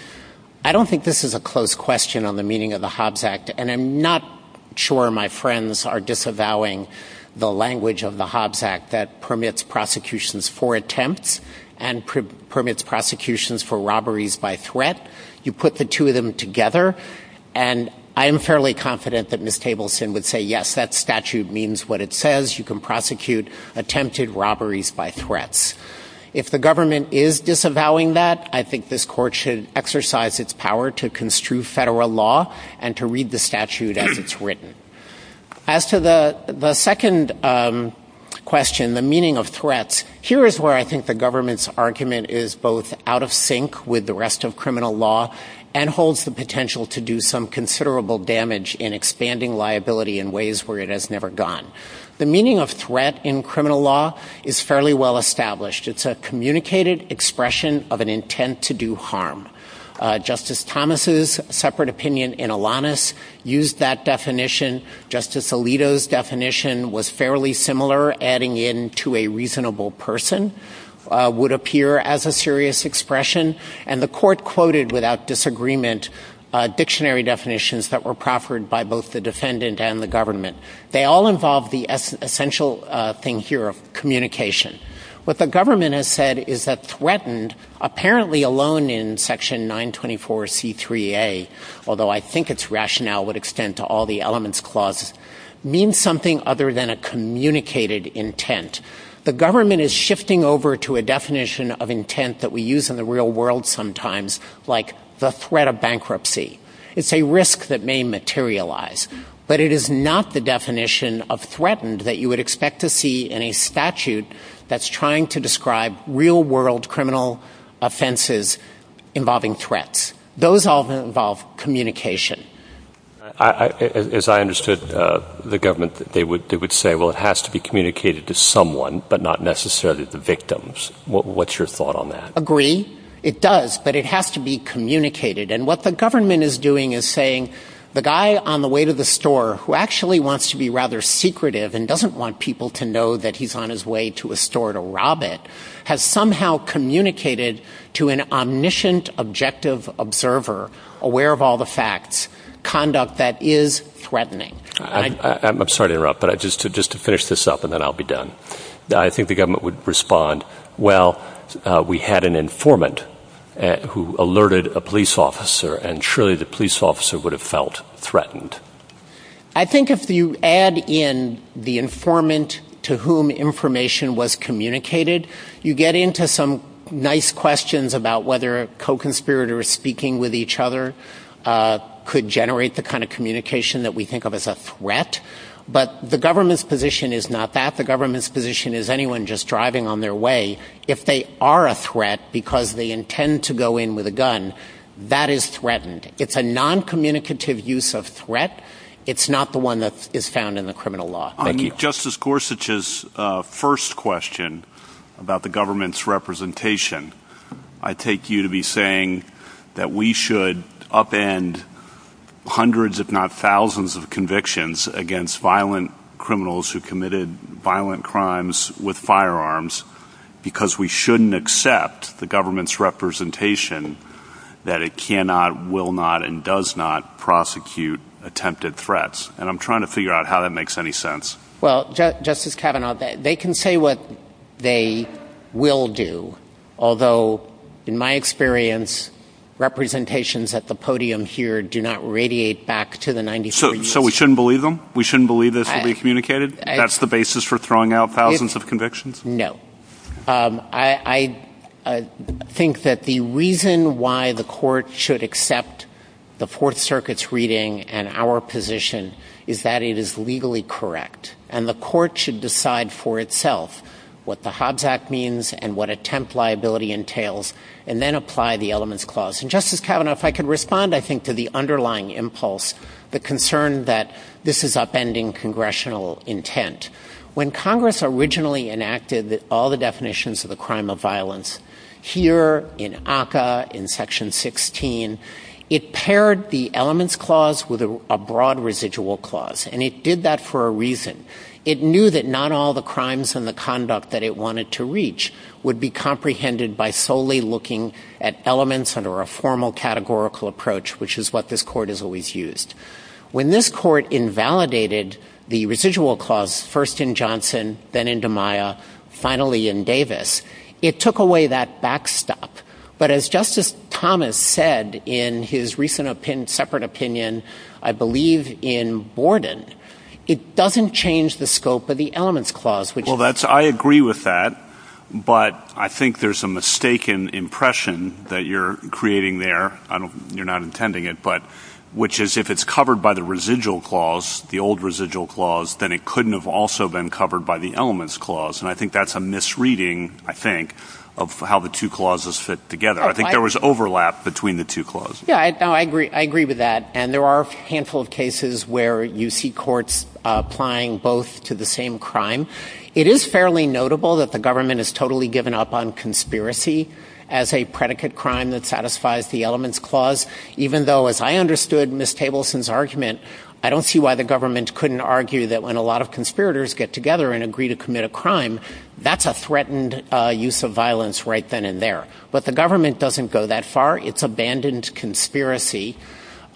I don't think this is a close question on the meaning of the Hobbes Act, and I'm not sure my friends are disavowing the language of the Hobbes Act that permits prosecutions for attempts and permits prosecutions for robberies by threat. You put the two of them together, and I'm fairly confident that Ms. Tableson would say, yes, that statute means what it says. You can prosecute attempted robberies by threats. If the government is disavowing that, I think this court should exercise its power to construe federal law and to read the statute as it's written. As to the second question, the meaning of threats, here is where I think the government's argument is both out of sync with the rest of criminal law and holds the potential to do some considerable damage in expanding liability in ways where it has never gone. The meaning of threat in criminal law is fairly well established. It's a communicated expression of an intent to do harm. Justice Thomas's separate opinion in Alanis used that definition. Justice Alito's definition was fairly similar, adding in to a reasonable person, would appear as a serious expression, and the court quoted without disagreement dictionary definitions that were proffered by both the defendant and the government. They all involve the essential thing here of communication. What the government has said is that threatened, apparently alone in Section 924C3A, although I think its rationale would extend to all the elements clause, means something other than a communicated intent. The government is shifting over to a definition of intent that we use in the real world sometimes, like the threat of bankruptcy. It's a risk that may materialize, but it is not the definition of threatened that you would expect to see in a statute that's trying to describe real world criminal offenses involving threats. Those all involve communication. As I understood the government, they would say, well, it has to be communicated to someone, but not necessarily the victims. What's your thought on that? Agree. It does, but it has to be communicated. And what the government is doing is saying, the guy on the way to the store who actually wants to be rather secretive and doesn't want people to know that he's on his way to a store to rob it, has somehow communicated to an omniscient, objective observer, aware of all the facts, conduct that is threatening. I'm sorry to interrupt, but just to finish this up and then I'll be done. I think the government would respond, well, we had an informant who alerted a police officer and surely the police officer would have felt threatened. I think if you add in the informant to whom information was communicated, you get into some nice questions about whether co-conspirators speaking with each other could generate the kind of communication that we think of as a threat. But the government's position is not that. The government's position is anyone just driving on their way, if they are a threat because they intend to go in with a gun, that is threatened. It's a noncommunicative use of threat. It's not the one that is found in the criminal law. On Justice Gorsuch's first question about the government's representation, I take you to be saying that we should upend hundreds if not thousands of convictions against violent criminals who committed violent crimes with firearms because we shouldn't accept the government's representation that it cannot, will not, and does not prosecute attempted threats. And I'm trying to figure out how that makes any sense. Well, Justice Kavanaugh, they can say what they will do. Although, in my experience, representations at the podium here do not radiate back to the 1930s. So we shouldn't believe them? We shouldn't believe this will be communicated? That's the basis for throwing out thousands of convictions? No. I think that the reason why the court should accept the Fourth Circuit's reading and our position is that it is legally correct. And the court should decide for itself what the Hobbs Act means and what attempt liability entails and then apply the Elements Clause. And, Justice Kavanaugh, if I could respond, I think, to the underlying impulse, the concern that this is upending congressional intent. When Congress originally enacted all the definitions of the crime of violence, here in ACCA, in Section 16, it paired the Elements Clause with a broad residual clause. And it did that for a reason. It knew that not all the crimes and the conduct that it wanted to reach would be comprehended by solely looking at elements under a formal categorical approach, which is what this court has always used. When this court invalidated the residual clause first in Johnson, then in DiMaia, finally in Davis, it took away that backstop. But as Justice Thomas said in his recent separate opinion, I believe, in Borden, it doesn't change the scope of the Elements Clause. Well, I agree with that. But I think there's a mistaken impression that you're creating there. You're not intending it, but which is if it's covered by the residual clause, the old residual clause, then it couldn't have also been covered by the Elements Clause. And I think that's a misreading, I think, of how the two clauses fit together. I think there was overlap between the two clauses. Yeah, I agree with that. And there are a handful of cases where you see courts applying both to the same crime. It is fairly notable that the government has totally given up on conspiracy as a predicate crime that satisfies the Elements Clause, even though, as I understood Ms. Tableson's argument, I don't see why the government couldn't argue that when a lot of conspirators get together and agree to commit a crime, that's a threatened use of violence right then and there. But the government doesn't go that far. It's abandoned conspiracy.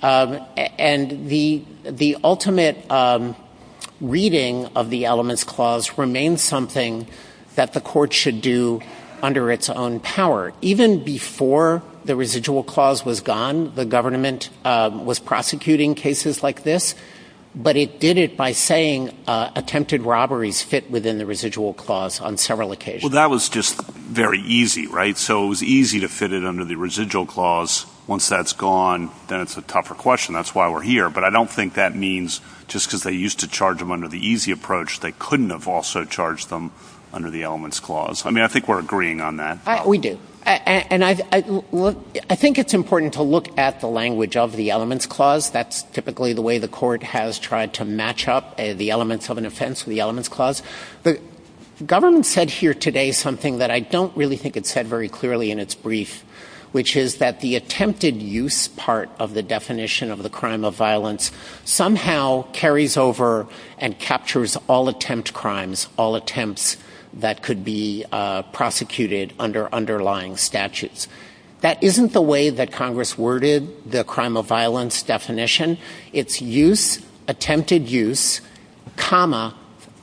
And the ultimate reading of the Elements Clause remains something that the court should do under its own power. Even before the residual clause was gone, the government was prosecuting cases like this, but it did it by saying attempted robberies fit within the residual clause on several occasions. Well, that was just very easy, right? So it was easy to fit it under the residual clause. Once that's gone, then it's a tougher question. That's why we're here. But I don't think that means just because they used to charge them under the easy approach, they couldn't have also charged them under the Elements Clause. I mean, I think we're agreeing on that. We do. And I think it's important to look at the language of the Elements Clause. That's typically the way the court has tried to match up the elements of an offense with the Elements Clause. The government said here today something that I don't really think it said very clearly in its brief, which is that the attempted use part of the definition of the crime of violence somehow carries over and captures all attempt crimes, all attempts that could be prosecuted under underlying statutes. That isn't the way that Congress worded the crime of violence definition. It's use, attempted use, comma,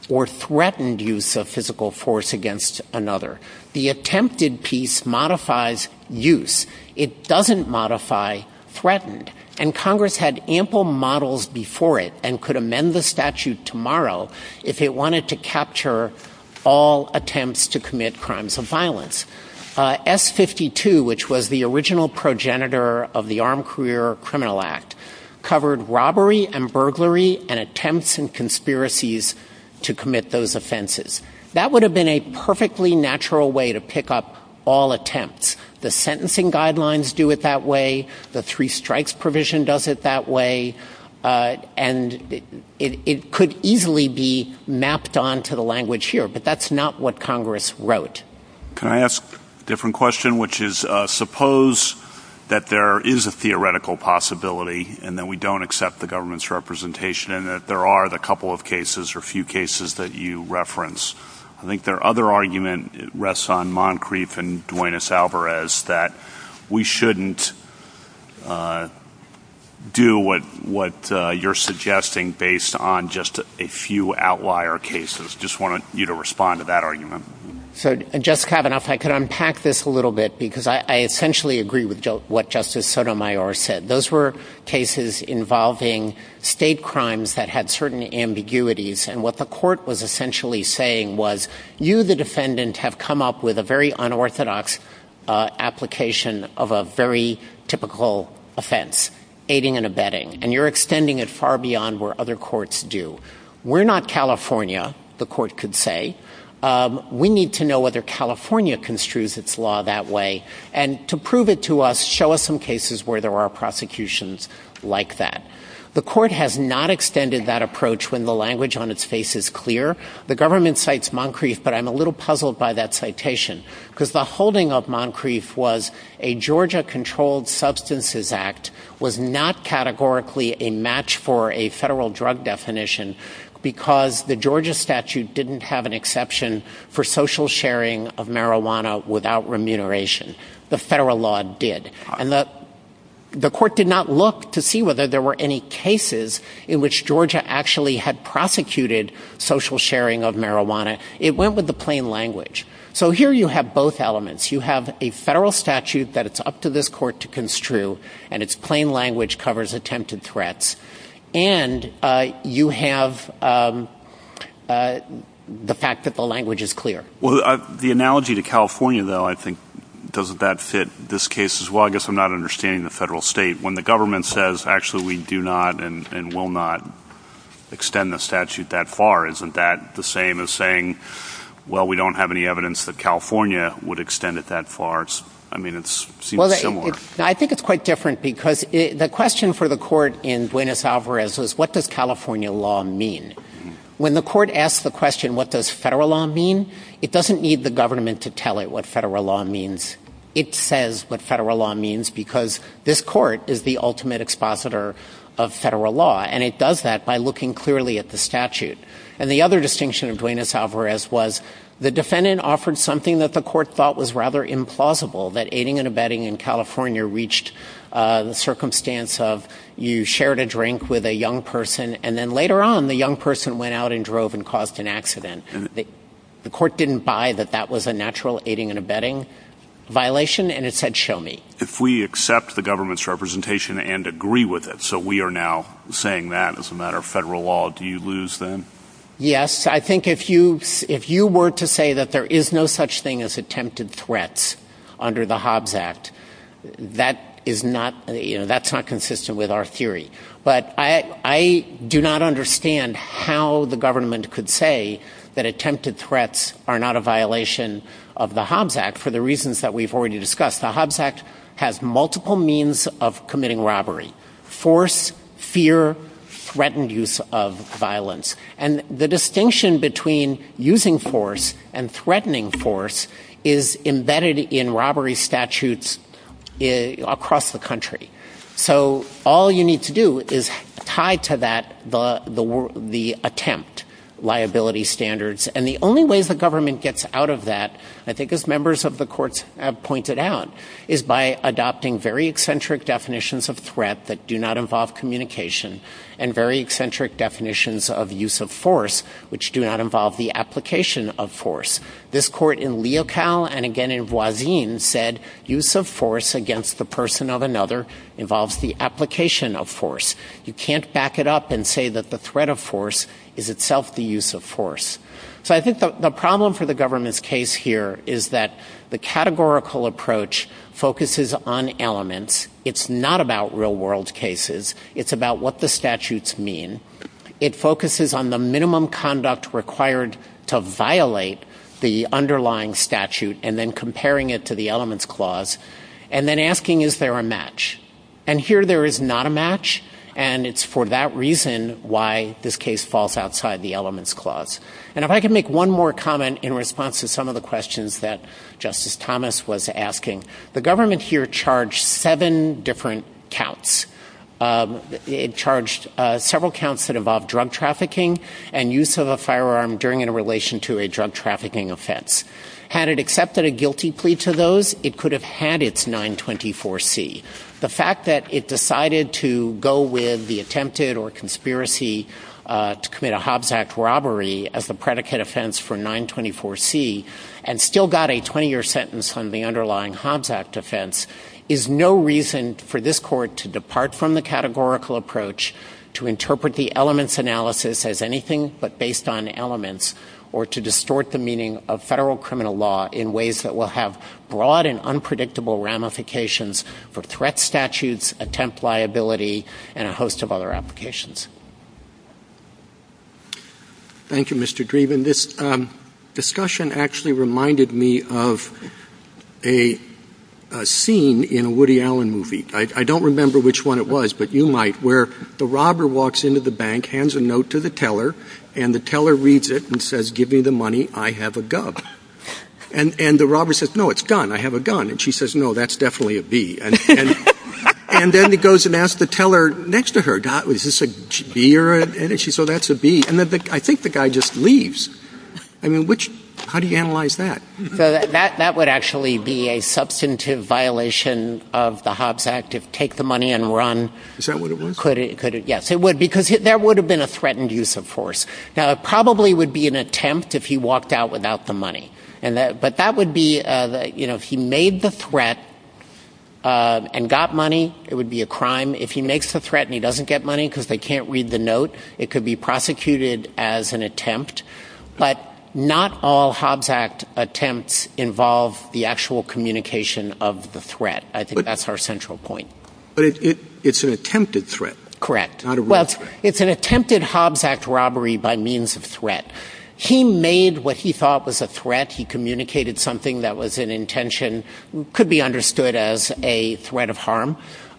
or threatened use of physical force against another. The attempted piece modifies use. It doesn't modify threatened. And Congress had ample models before it and could amend the statute tomorrow if it wanted to capture all attempts to commit crimes of violence. S-52, which was the original progenitor of the Armed Career Criminal Act, covered robbery and burglary and attempts and conspiracies to commit those offenses. That would have been a perfectly natural way to pick up all attempts. The sentencing guidelines do it that way. The three strikes provision does it that way. And it could easily be mapped onto the language here, but that's not what Congress wrote. Can I ask a different question, which is suppose that there is a theoretical possibility and that we don't accept the government's representation and that there are a couple of cases or a few cases that you reference. I think their other argument rests on Moncrief and Duenas-Alvarez, that we shouldn't do what you're suggesting based on just a few outlier cases. Just wanted you to respond to that argument. So, Jessica, if I could unpack this a little bit, because I essentially agree with what Justice Sotomayor said. Those were cases involving state crimes that had certain ambiguities, and what the court was essentially saying was, you, the defendant, have come up with a very unorthodox application of a very typical offense, aiding and abetting, and you're extending it far beyond where other courts do. We're not California, the court could say. We need to know whether California construes its law that way, and to prove it to us, show us some cases where there are prosecutions like that. The court has not extended that approach when the language on its face is clear. The government cites Moncrief, but I'm a little puzzled by that citation, because the holding of Moncrief was a Georgia-controlled substances act was not categorically a match for a federal drug definition because the Georgia statute didn't have an exception for social sharing of marijuana without remuneration. The federal law did. And the court did not look to see whether there were any cases in which Georgia actually had prosecuted social sharing of marijuana. It went with the plain language. So here you have both elements. You have a federal statute that it's up to this court to construe, and its plain language covers attempted threats. And you have the fact that the language is clear. Well, the analogy to California, though, I think, doesn't that fit this case as well? I guess I'm not understanding the federal state. When the government says, actually, we do not and will not extend the statute that far, isn't that the same as saying, well, we don't have any evidence that California would extend it that far? I mean, it seems similar. I think it's quite different because the question for the court in Duenas-Alvarez was, what does California law mean? When the court asks the question, what does federal law mean, it doesn't need the government to tell it what federal law means. It says what federal law means because this court is the ultimate expositor of federal law, and it does that by looking clearly at the statute. And the other distinction of Duenas-Alvarez was the defendant offered something that the court thought was rather implausible, that aiding and abetting in California reached the circumstance of you shared a drink with a young person, and then later on the young person went out and drove and caused an accident. The court didn't buy that that was a natural aiding and abetting violation, and it said, show me. If we accept the government's representation and agree with it, so we are now saying that as a matter of federal law, do you lose then? Yes, I think if you were to say that there is no such thing as attempted threats under the Hobbs Act, that's not consistent with our theory. But I do not understand how the government could say that attempted threats are not a violation of the Hobbs Act for the reasons that we've already discussed. The Hobbs Act has multiple means of committing robbery, force, fear, threatened use of violence. And the distinction between using force and threatening force is embedded in robbery statutes across the country. So all you need to do is tie to that the attempt liability standards. And the only way the government gets out of that, I think as members of the court have pointed out, is by adopting very eccentric definitions of threat that do not involve communication and very eccentric definitions of use of force, which do not involve the application of force. This court in Leocal and again in Voisin said use of force against the person of another involves the application of force. You can't back it up and say that the threat of force is itself the use of force. So I think the problem for the government's case here is that the categorical approach focuses on elements. It's not about real world cases. It's about what the statutes mean. It focuses on the minimum conduct required to violate the underlying statute and then comparing it to the elements clause and then asking is there a match. And here there is not a match and it's for that reason why this case falls outside the elements clause. And if I can make one more comment in response to some of the questions that Justice Thomas was asking. The government here charged seven different counts. It charged several counts that involved drug trafficking and use of a firearm during and in relation to a drug trafficking offense. Had it accepted a guilty plea to those, it could have had its 924C. The fact that it decided to go with the attempted or conspiracy to commit a Hobbs Act robbery as the predicate offense for 924C and still got a 20-year sentence on the underlying Hobbs Act offense is no reason for this court to depart from the categorical approach to interpret the elements analysis as anything but based on elements or to distort the meaning of federal criminal law in ways that will have broad and unpredictable ramifications for threat statutes, attempt liability and a host of other applications. Thank you, Mr. Grieve. And this discussion actually reminded me of a scene in a Woody Allen movie. I don't remember which one it was, but you might, where the robber walks into the bank, hands a note to the teller and the teller reads it and says, give me the money, I have a gun. And the robber says, no, it's done, I have a gun. And she says, no, that's definitely a B. And then he goes and asks the teller next to her, is this a B or an N? And she says, that's a B. And I think the guy just leaves. I mean, how do you analyze that? That would actually be a substantive violation of the Hobbs Act to take the money and run. Is that what it was? Yes, it would, because there would have been a threatened use of force. Now, it probably would be an attempt if he walked out without the money. But that would be, if he made the threat and got money, it would be a crime. If he makes the threat and he doesn't get money because they can't read the note, it could be prosecuted as an attempt. But not all Hobbs Act attempts involve the actual communication of the threat. I think that's our central point. But it's an attempted threat. Correct. Well, it's an attempted Hobbs Act robbery by means of threat. He made what he thought was a threat. He communicated something that was an intention, could be understood as a threat of harm.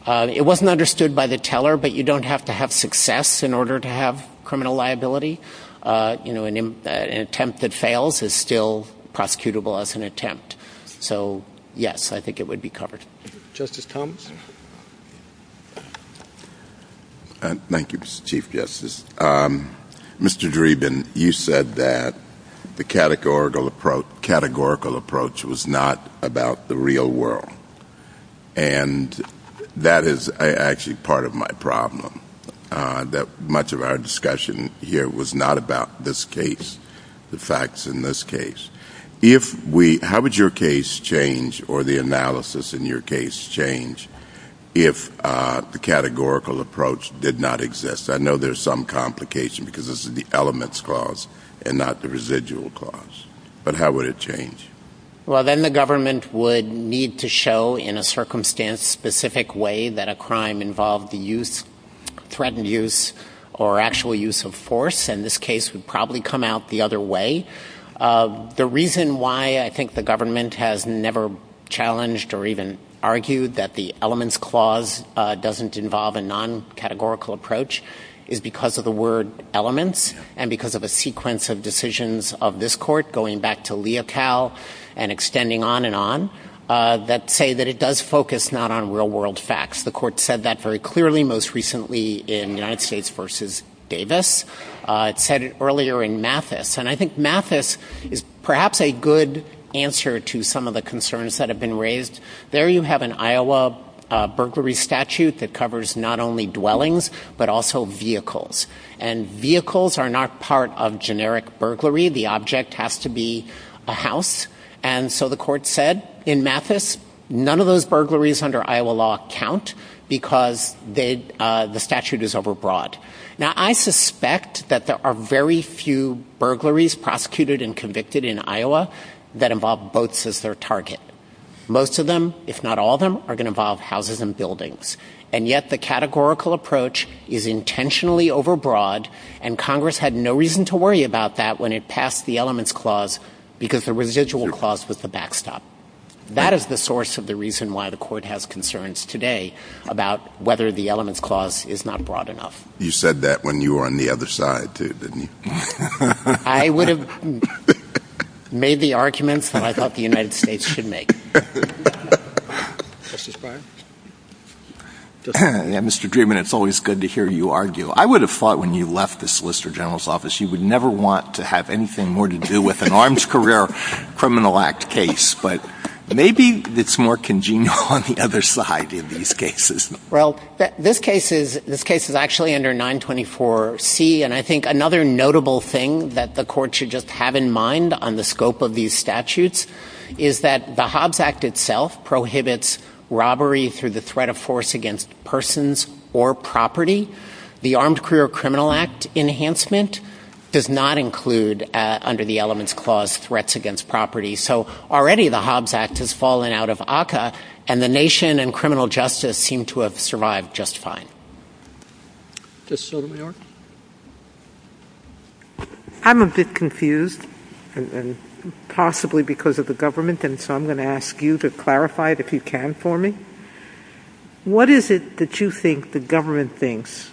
It wasn't understood by the teller, but you don't have to have success in order to have criminal liability. An attempt that fails is still prosecutable as an attempt. So, yes, I think it would be covered. Justice Combs? Thank you, Mr. Chief Justice. Mr. Dreeben, you said that the categorical approach was not about the real world. And that is actually part of my problem, that much of our discussion here was not about this case, the facts in this case. How would your case change or the analysis in your case change if the categorical approach did not exist? I know there's some complication because this is the elements clause and not the residual clause. But how would it change? Well, then the government would need to show in a circumstance-specific way that a crime involved threatened use or actual use of force. And this case would probably come out the other way. The reason why I think the government has never challenged or even argued that the elements clause doesn't involve a non-categorical approach is because of the word elements and because of a sequence of decisions of this court going back to Leocal and extending on and on that say that it does focus not on real world facts. The court said that very clearly most recently in United States v. Davis. It said it earlier in Mathis. And I think Mathis is perhaps a good answer to some of the concerns that have been raised. There you have an Iowa burglary statute that covers not only dwellings but also vehicles. And vehicles are not part of generic burglary. The object has to be a house. And so the court said in Mathis none of those burglaries under Iowa law count because the statute is overbroad. Now I suspect that there are very few burglaries prosecuted and convicted in Iowa that involve boats as their target. Most of them, if not all of them, are going to involve houses and buildings. And yet the categorical approach is intentionally overbroad. And Congress had no reason to worry about that when it passed the elements clause because the residual clause was a backstop. That is the source of the reason why the court has concerns today about whether the elements clause is not broad enough. You said that when you were on the other side too, didn't you? I would have made the arguments that I thought the United States should make. Mr. Dreeben, it's always good to hear you argue. I would have thought when you left the Solicitor General's office you would never want to have anything more to do with an arms career criminal act case. But maybe it's more congenial on the other side of these cases. Well, this case is actually under 924C. And I think another notable thing that the court should just have in mind on the scope of these statutes is that the Hobbs Act itself prohibits robbery through the threat of force against persons or property. The Armed Career Criminal Act enhancement does not include under the elements clause threats against property. So already the Hobbs Act has fallen out of ACCA, and the nation and criminal justice seem to have survived just fine. I'm a bit confused, possibly because of the government, and so I'm going to ask you to clarify it if you can for me. What is it that you think the government thinks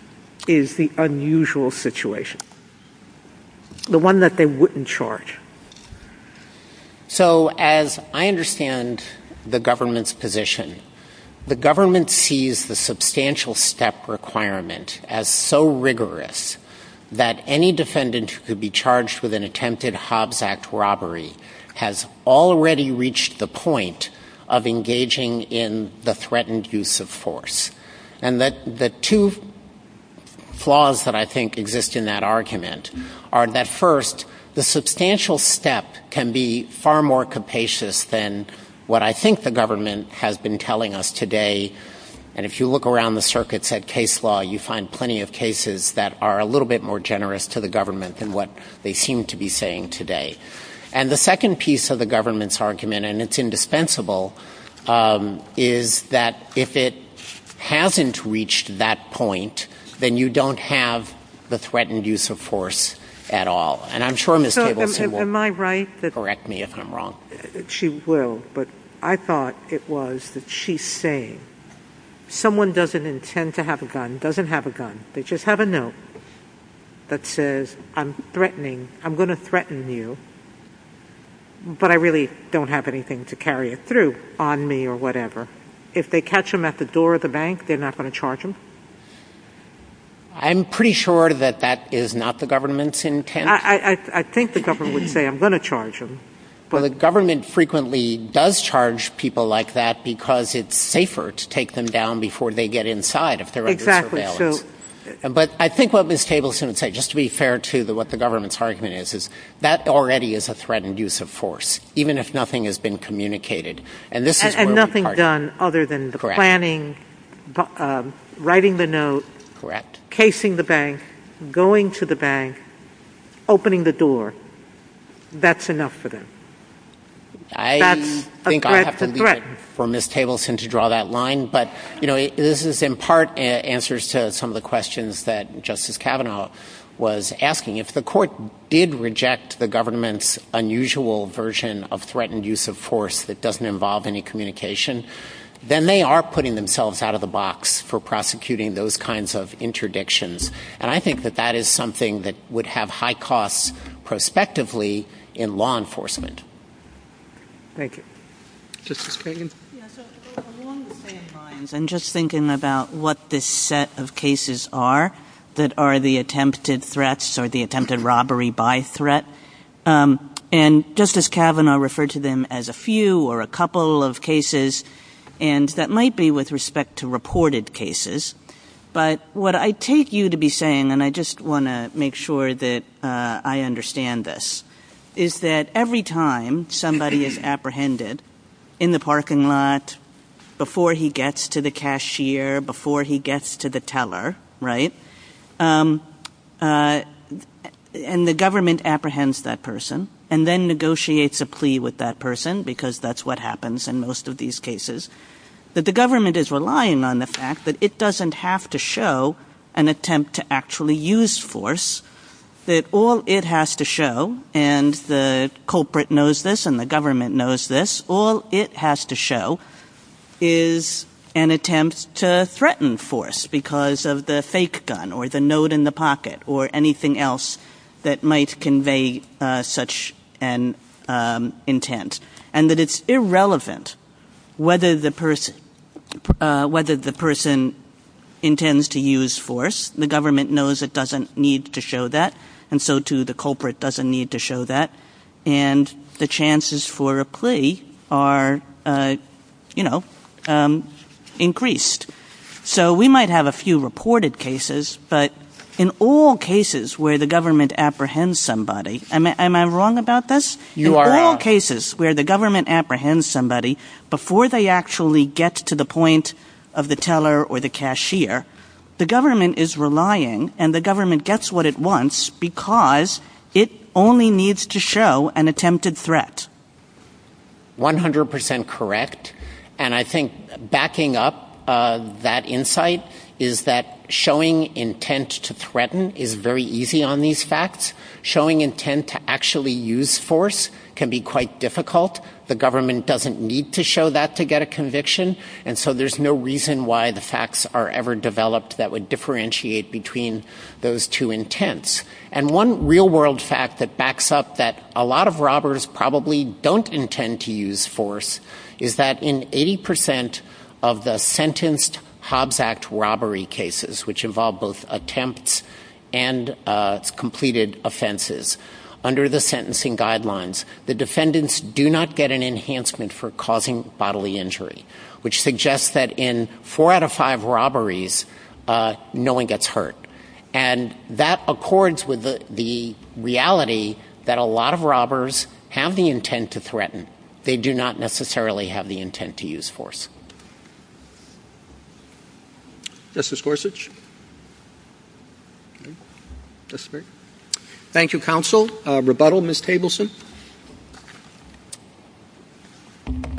is the unusual situation, the one that they wouldn't charge? So as I understand the government's position, the government sees the substantial step requirement as so rigorous that any defendant who could be charged with an attempted Hobbs Act robbery has already reached the point of engaging in the threatened use of force. And the two flaws that I think exist in that argument are that first, the substantial step can be far more capacious than what I think the government has been telling us today. And if you look around the circuits at case law, you find plenty of cases that are a little bit more generous to the government than what they seem to be saying today. And the second piece of the government's argument, and it's indispensable, is that if it hasn't reached that point, then you don't have the threatened use of force at all. And I'm sure Ms. Tableson will correct me if I'm wrong. She will, but I thought it was that she's saying someone doesn't intend to have a gun, doesn't have a gun, they just have a note that says I'm going to threaten you, but I really don't have anything to carry it through on me or whatever. If they catch them at the door of the bank, they're not going to charge them? I'm pretty sure that that is not the government's intent. I think the government would say I'm going to charge them. Well, the government frequently does charge people like that because it's safer to take them down before they get inside if they're under surveillance. But I think what Ms. Tableson would say, just to be fair to what the government's argument is, is that already is a threatened use of force, even if nothing has been communicated. And nothing's done other than the planning, writing the note, casing the bank, going to the bank, opening the door. That's enough for them. That's a threat to threaten. But this is in part answers to some of the questions that Justice Kavanaugh was asking. If the court did reject the government's unusual version of threatened use of force that doesn't involve any communication, then they are putting themselves out of the box for prosecuting those kinds of interdictions. And I think that that is something that would have high costs prospectively in law enforcement. Thank you. Justice Kagan? I'm just thinking about what this set of cases are that are the attempted threats or the attempted robbery by threat. And Justice Kavanaugh referred to them as a few or a couple of cases, and that might be with respect to reported cases. But what I take you to be saying, and I just want to make sure that I understand this, is that every time somebody is apprehended in the parking lot, before he gets to the cashier, before he gets to the teller, and the government apprehends that person and then negotiates a plea with that person, because that's what happens in most of these cases, that the government is relying on the fact that it doesn't have to show an attempt to actually use force. That all it has to show, and the culprit knows this and the government knows this, all it has to show is an attempt to threaten force because of the fake gun or the note in the pocket or anything else that might convey such an intent. And that it's irrelevant whether the person intends to use force. The government knows it doesn't need to show that, and so too the culprit doesn't need to show that. And the chances for a plea are, you know, increased. So we might have a few reported cases, but in all cases where the government apprehends somebody, am I wrong about this? In all cases where the government apprehends somebody, before they actually get to the point of the teller or the cashier, the government is relying and the government gets what it wants because it only needs to show an attempted threat. 100% correct. And I think backing up that insight is that showing intent to threaten is very easy on these facts. Showing intent to actually use force can be quite difficult. The government doesn't need to show that to get a conviction, and so there's no reason why the facts are ever developed that would differentiate between those two intents. And one real world fact that backs up that a lot of robbers probably don't intend to use force is that in 80% of the sentenced Hobbs Act robbery cases, which involve both attempts and completed offenses, under the sentencing guidelines, the defendants do not get an enhancement for causing bodily injury, which suggests that in four out of five robberies, no one gets hurt. And that accords with the reality that a lot of robbers have the intent to threaten. They do not necessarily have the intent to use force. Justice Gorsuch? Thank you, counsel. Rebuttal, Ms. Tableson?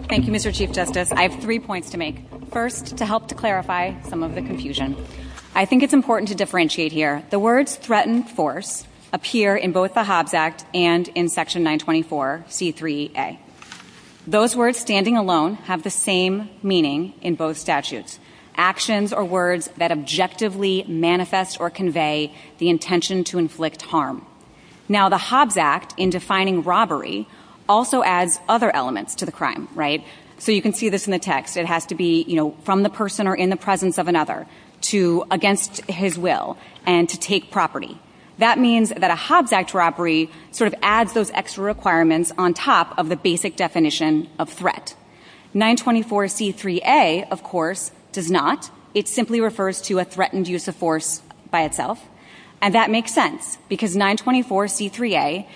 Thank you, Mr. Chief Justice. I have three points to make. First, to help to clarify some of the confusion. I think it's important to differentiate here. The words threatened force appear in both the Hobbs Act and in Section 924C3A. Those words standing alone have the same meaning in both statutes, actions or words that objectively manifest or convey the intention to inflict harm. Now, the Hobbs Act, in defining robbery, also adds other elements to the crime, right? So you can see this in the text. It has to be from the person or in the presence of another against his will and to take property. That means that a Hobbs Act robbery sort of adds those extra requirements on top of the basic definition of threat. 924C3A, of course, does not. It simply refers to a threatened use of force by itself. And that makes sense because 924C3A,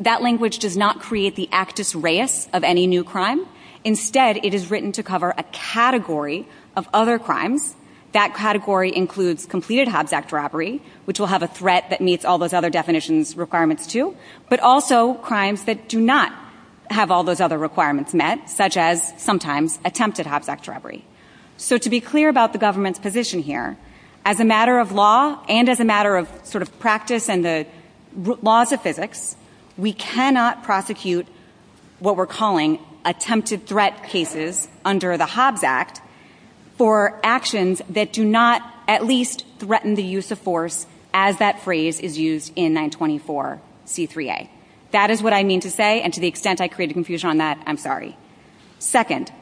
that language does not create the actus reus of any new crime. Instead, it is written to cover a category of other crimes. That category includes completed Hobbs Act robbery, which will have a threat that meets all those other definitions requirements too, but also crimes that do not have all those other requirements met, such as sometimes attempted Hobbs Act robbery. So to be clear about the government's position here, as a matter of law and as a matter of sort of practice and the laws of physics, we cannot prosecute what we're calling attempted threat cases under the Hobbs Act for actions that do not at least threaten the use of force as that phrase is used in 924C3A. That is what I mean to say, and to the extent I created confusion on that, I'm sorry. Second,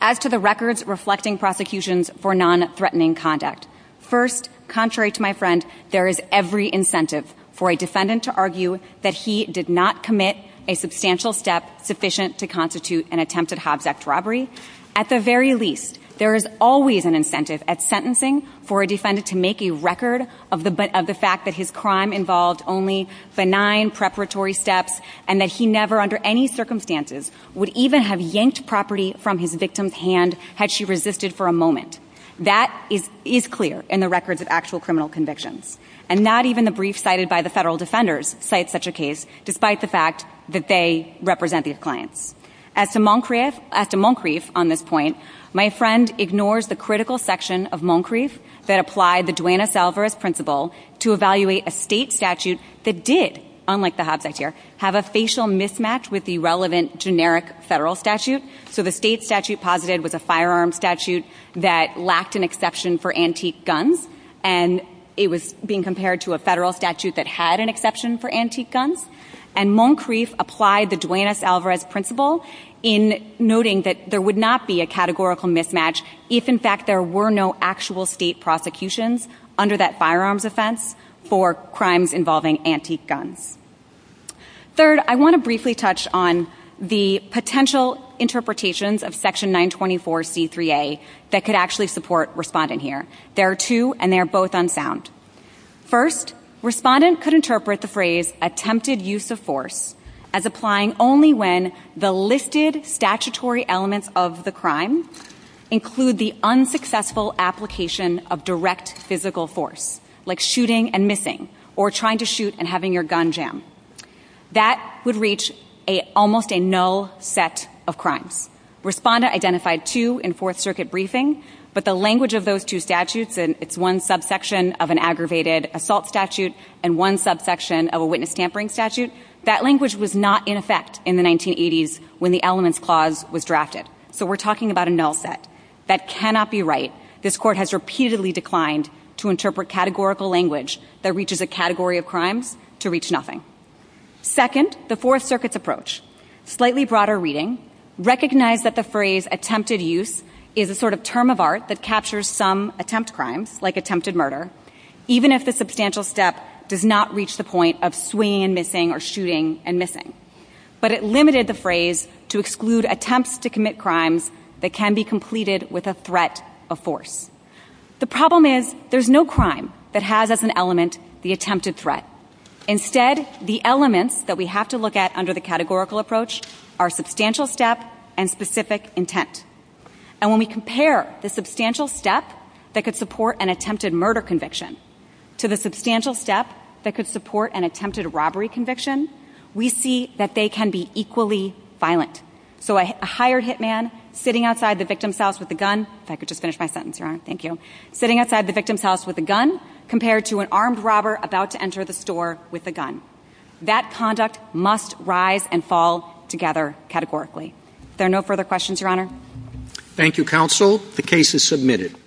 as to the records reflecting prosecutions for non-threatening conduct, first, contrary to my friend, there is every incentive for a defendant to argue that he did not commit a substantial step sufficient to constitute an attempted Hobbs Act robbery. At the very least, there is always an incentive at sentencing for a defendant to make a record of the fact that his crime involved only benign preparatory steps and that he never under any circumstances would even have yanked property from his victim's hand had she resisted for a moment. That is clear in the records of actual criminal convictions, and not even the brief cited by the federal defenders cite such a case despite the fact that they represent these clients. As to Moncrief on this point, my friend ignores the critical section of Moncrief that applied the Duane S. Alvarez principle to evaluate a state statute that did, unlike the Hobbs Act here, have a facial mismatch with the relevant generic federal statute. So the state statute posited was a firearm statute that lacked an exception for antique guns, and it was being compared to a federal statute that had an exception for antique guns. And Moncrief applied the Duane S. Alvarez principle in noting that there would not be a categorical mismatch if, in fact, there were no actual state prosecutions under that firearms offense for crimes involving antique guns. Third, I want to briefly touch on the potential interpretations of Section 924C3A that could actually support Respondent here. There are two, and they are both unfound. First, Respondent could interpret the phrase attempted use of force as applying only when the listed statutory elements of the crime include the unsuccessful application of direct physical force, like shooting and missing, or trying to shoot and having your gun jam. That would reach almost a null set of crimes. Respondent identified two in Fourth Circuit briefing, but the language of those two statutes, and it's one subsection of an aggravated assault statute and one subsection of a witness tampering statute, that language was not in effect in the 1980s when the Elements Clause was drafted. So we're talking about a null set. That cannot be right. This Court has repeatedly declined to interpret categorical language that reaches a category of crime to reach nothing. Second, the Fourth Circuit's approach, slightly broader reading, recognized that the phrase attempted use is a sort of term of art that captures some attempt crimes, like attempted murder, even if the substantial step does not reach the point of swinging and missing or shooting and missing. But it limited the phrase to exclude attempts to commit crimes that can be completed with a threat of force. The problem is there's no crime that has as an element the attempted threat. Instead, the elements that we have to look at under the categorical approach are substantial step and specific intent. And when we compare the substantial step that could support an attempted murder conviction to the substantial step that could support an attempted robbery conviction, we see that they can be equally violent. So a hired hitman sitting outside the victim's house with a gun, if I could just finish my sentence, Your Honor, thank you, sitting outside the victim's house with a gun compared to an armed robber about to enter the store with a gun. That conduct must rise and fall together categorically. Is there no further questions, Your Honor? Thank you, Counsel. The case is submitted.